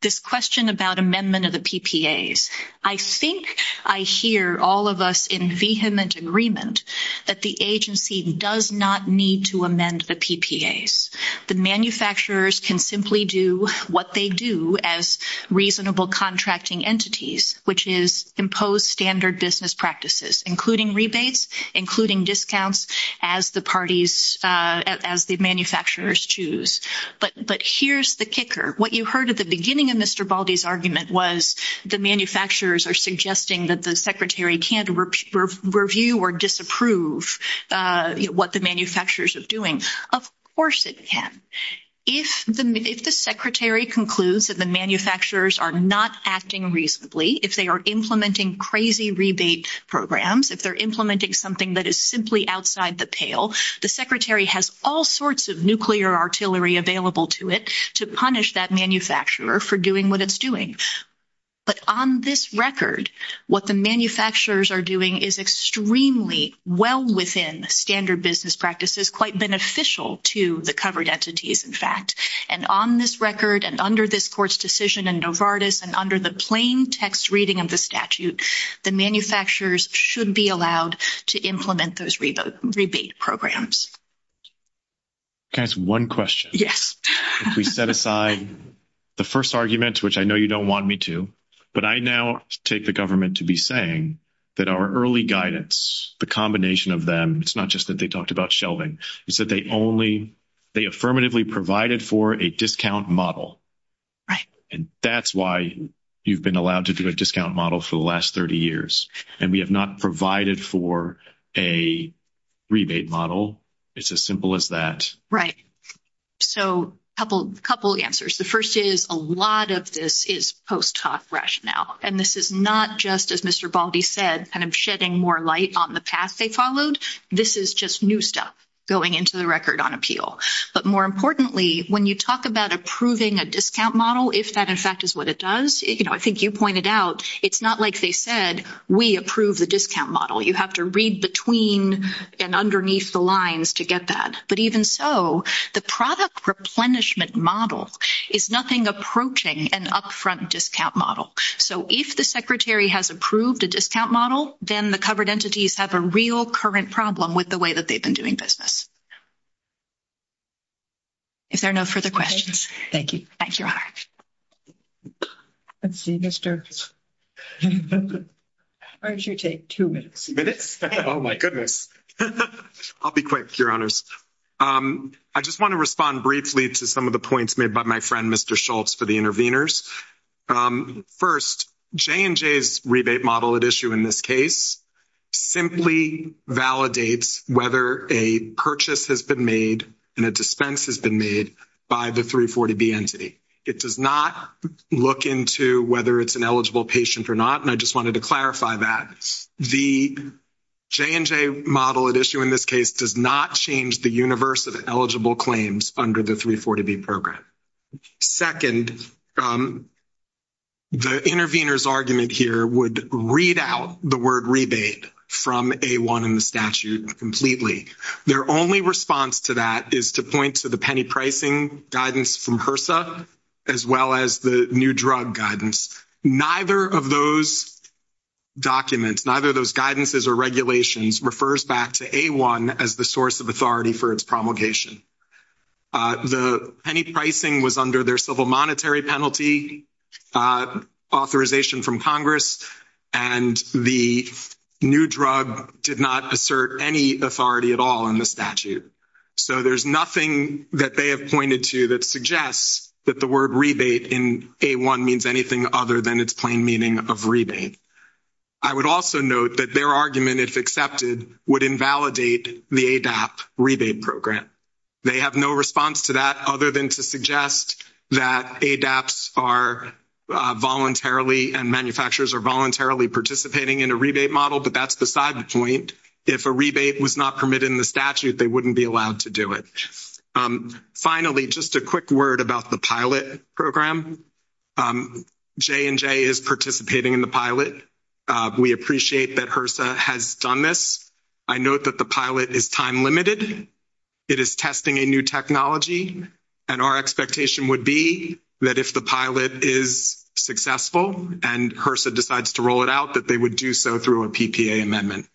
this question about amendment of the PPAs. I think I hear all of us in vehement agreement that the agency does not need to amend the PPAs. The manufacturers can simply do what they do as reasonable contracting entities, which is impose standard business practices, including rebates, including discounts as the parties, as the manufacturers choose. But here is the kicker. What you heard at the beginning of Mr. Baldy's argument was the manufacturers are suggesting that the secretary can't review or disapprove what the manufacturers are doing. Of course it can. If the secretary concludes that the manufacturers are not acting reasonably, if they are implementing crazy rebate programs, if they're implementing something that is simply outside the pale, the secretary has all sorts of nuclear artillery available to it to punish that manufacturer for doing what it's doing. But on this record, what the manufacturers are doing is extremely well within standard business practices, quite beneficial to the covered entities, in fact. And on this record and under this court's decision in Novartis and under the plain text reading of the statute, the manufacturers should be allowed to implement those rebate programs. That's one question. If we set aside the first argument, which I know you don't want me to, but I now take the government to be saying that our early guidance, the combination of them, it's not just that they talked about shelving, is that they affirmatively provided for a discount model. And that's why you've been allowed to do a discount model for the last 30 years. And we have not provided for a rebate model. It's as simple as that. Right. So a couple of answers. The first is a lot of this is post hoc rationale. And this is not just, as Mr. Baldy said, kind of shedding more light on the path they followed. This is just new stuff going into the record on appeal. But more importantly, when you talk about approving a discount model, if that, in fact, is what it does, I think you pointed out it's not like they said, we approve the discount model. You have to read between and underneath the lines to get that. But even so, the product replenishment model is nothing approaching an upfront discount model. So if the secretary has approved a discount model, then the covered entities have a real current problem with the way that they've been doing business. Is there no further questions? Thank you. Thanks, Your Honor. Let's see, Mr. Why don't you take two minutes? Oh, my goodness. I'll be quick, Your Honors. I just want to respond briefly to some of the points made by my friend, Mr. Schultz, for the interveners. First, J&J's rebate model at issue in this case simply validates whether a purchase has been made and a dispense has been made by the 340B entity. It does not look into whether it's an eligible patient or not, and I just wanted to clarify that. The J&J model at issue in this case does not change the universe of eligible claims under the 340B program. Second, the intervener's argument here would read out the word rebate from A1 in the statute completely. Their only response to that is to point to the penny pricing guidance from HRSA as well as the new drug guidance. Neither of those documents, neither of those guidances or regulations, refers back to A1 as the source of authority for its promulgation. The penny pricing was under their civil monetary penalty authorization from Congress, and the new drug did not assert any authority at all in the statute. So there's nothing that they have pointed to that suggests that the word rebate in A1 means anything other than its plain meaning of rebate. I would also note that their argument, if accepted, would invalidate the ADAP rebate program. They have no response to that other than to suggest that ADAPs are voluntarily and manufacturers are voluntarily participating in a rebate model, but that's the side point. If a rebate was not permitted in the statute, they wouldn't be allowed to do it. Finally, just a quick word about the pilot program. J&J is participating in the pilot. We appreciate that HRSA has done this. I note that the pilot is time limited. It is testing a new technology, and our expectation would be that if the pilot is successful and HRSA decides to roll it out, that they would do so through a PPA amendment.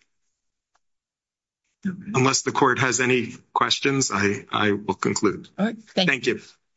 Unless the court has any questions, I will conclude. Thank you.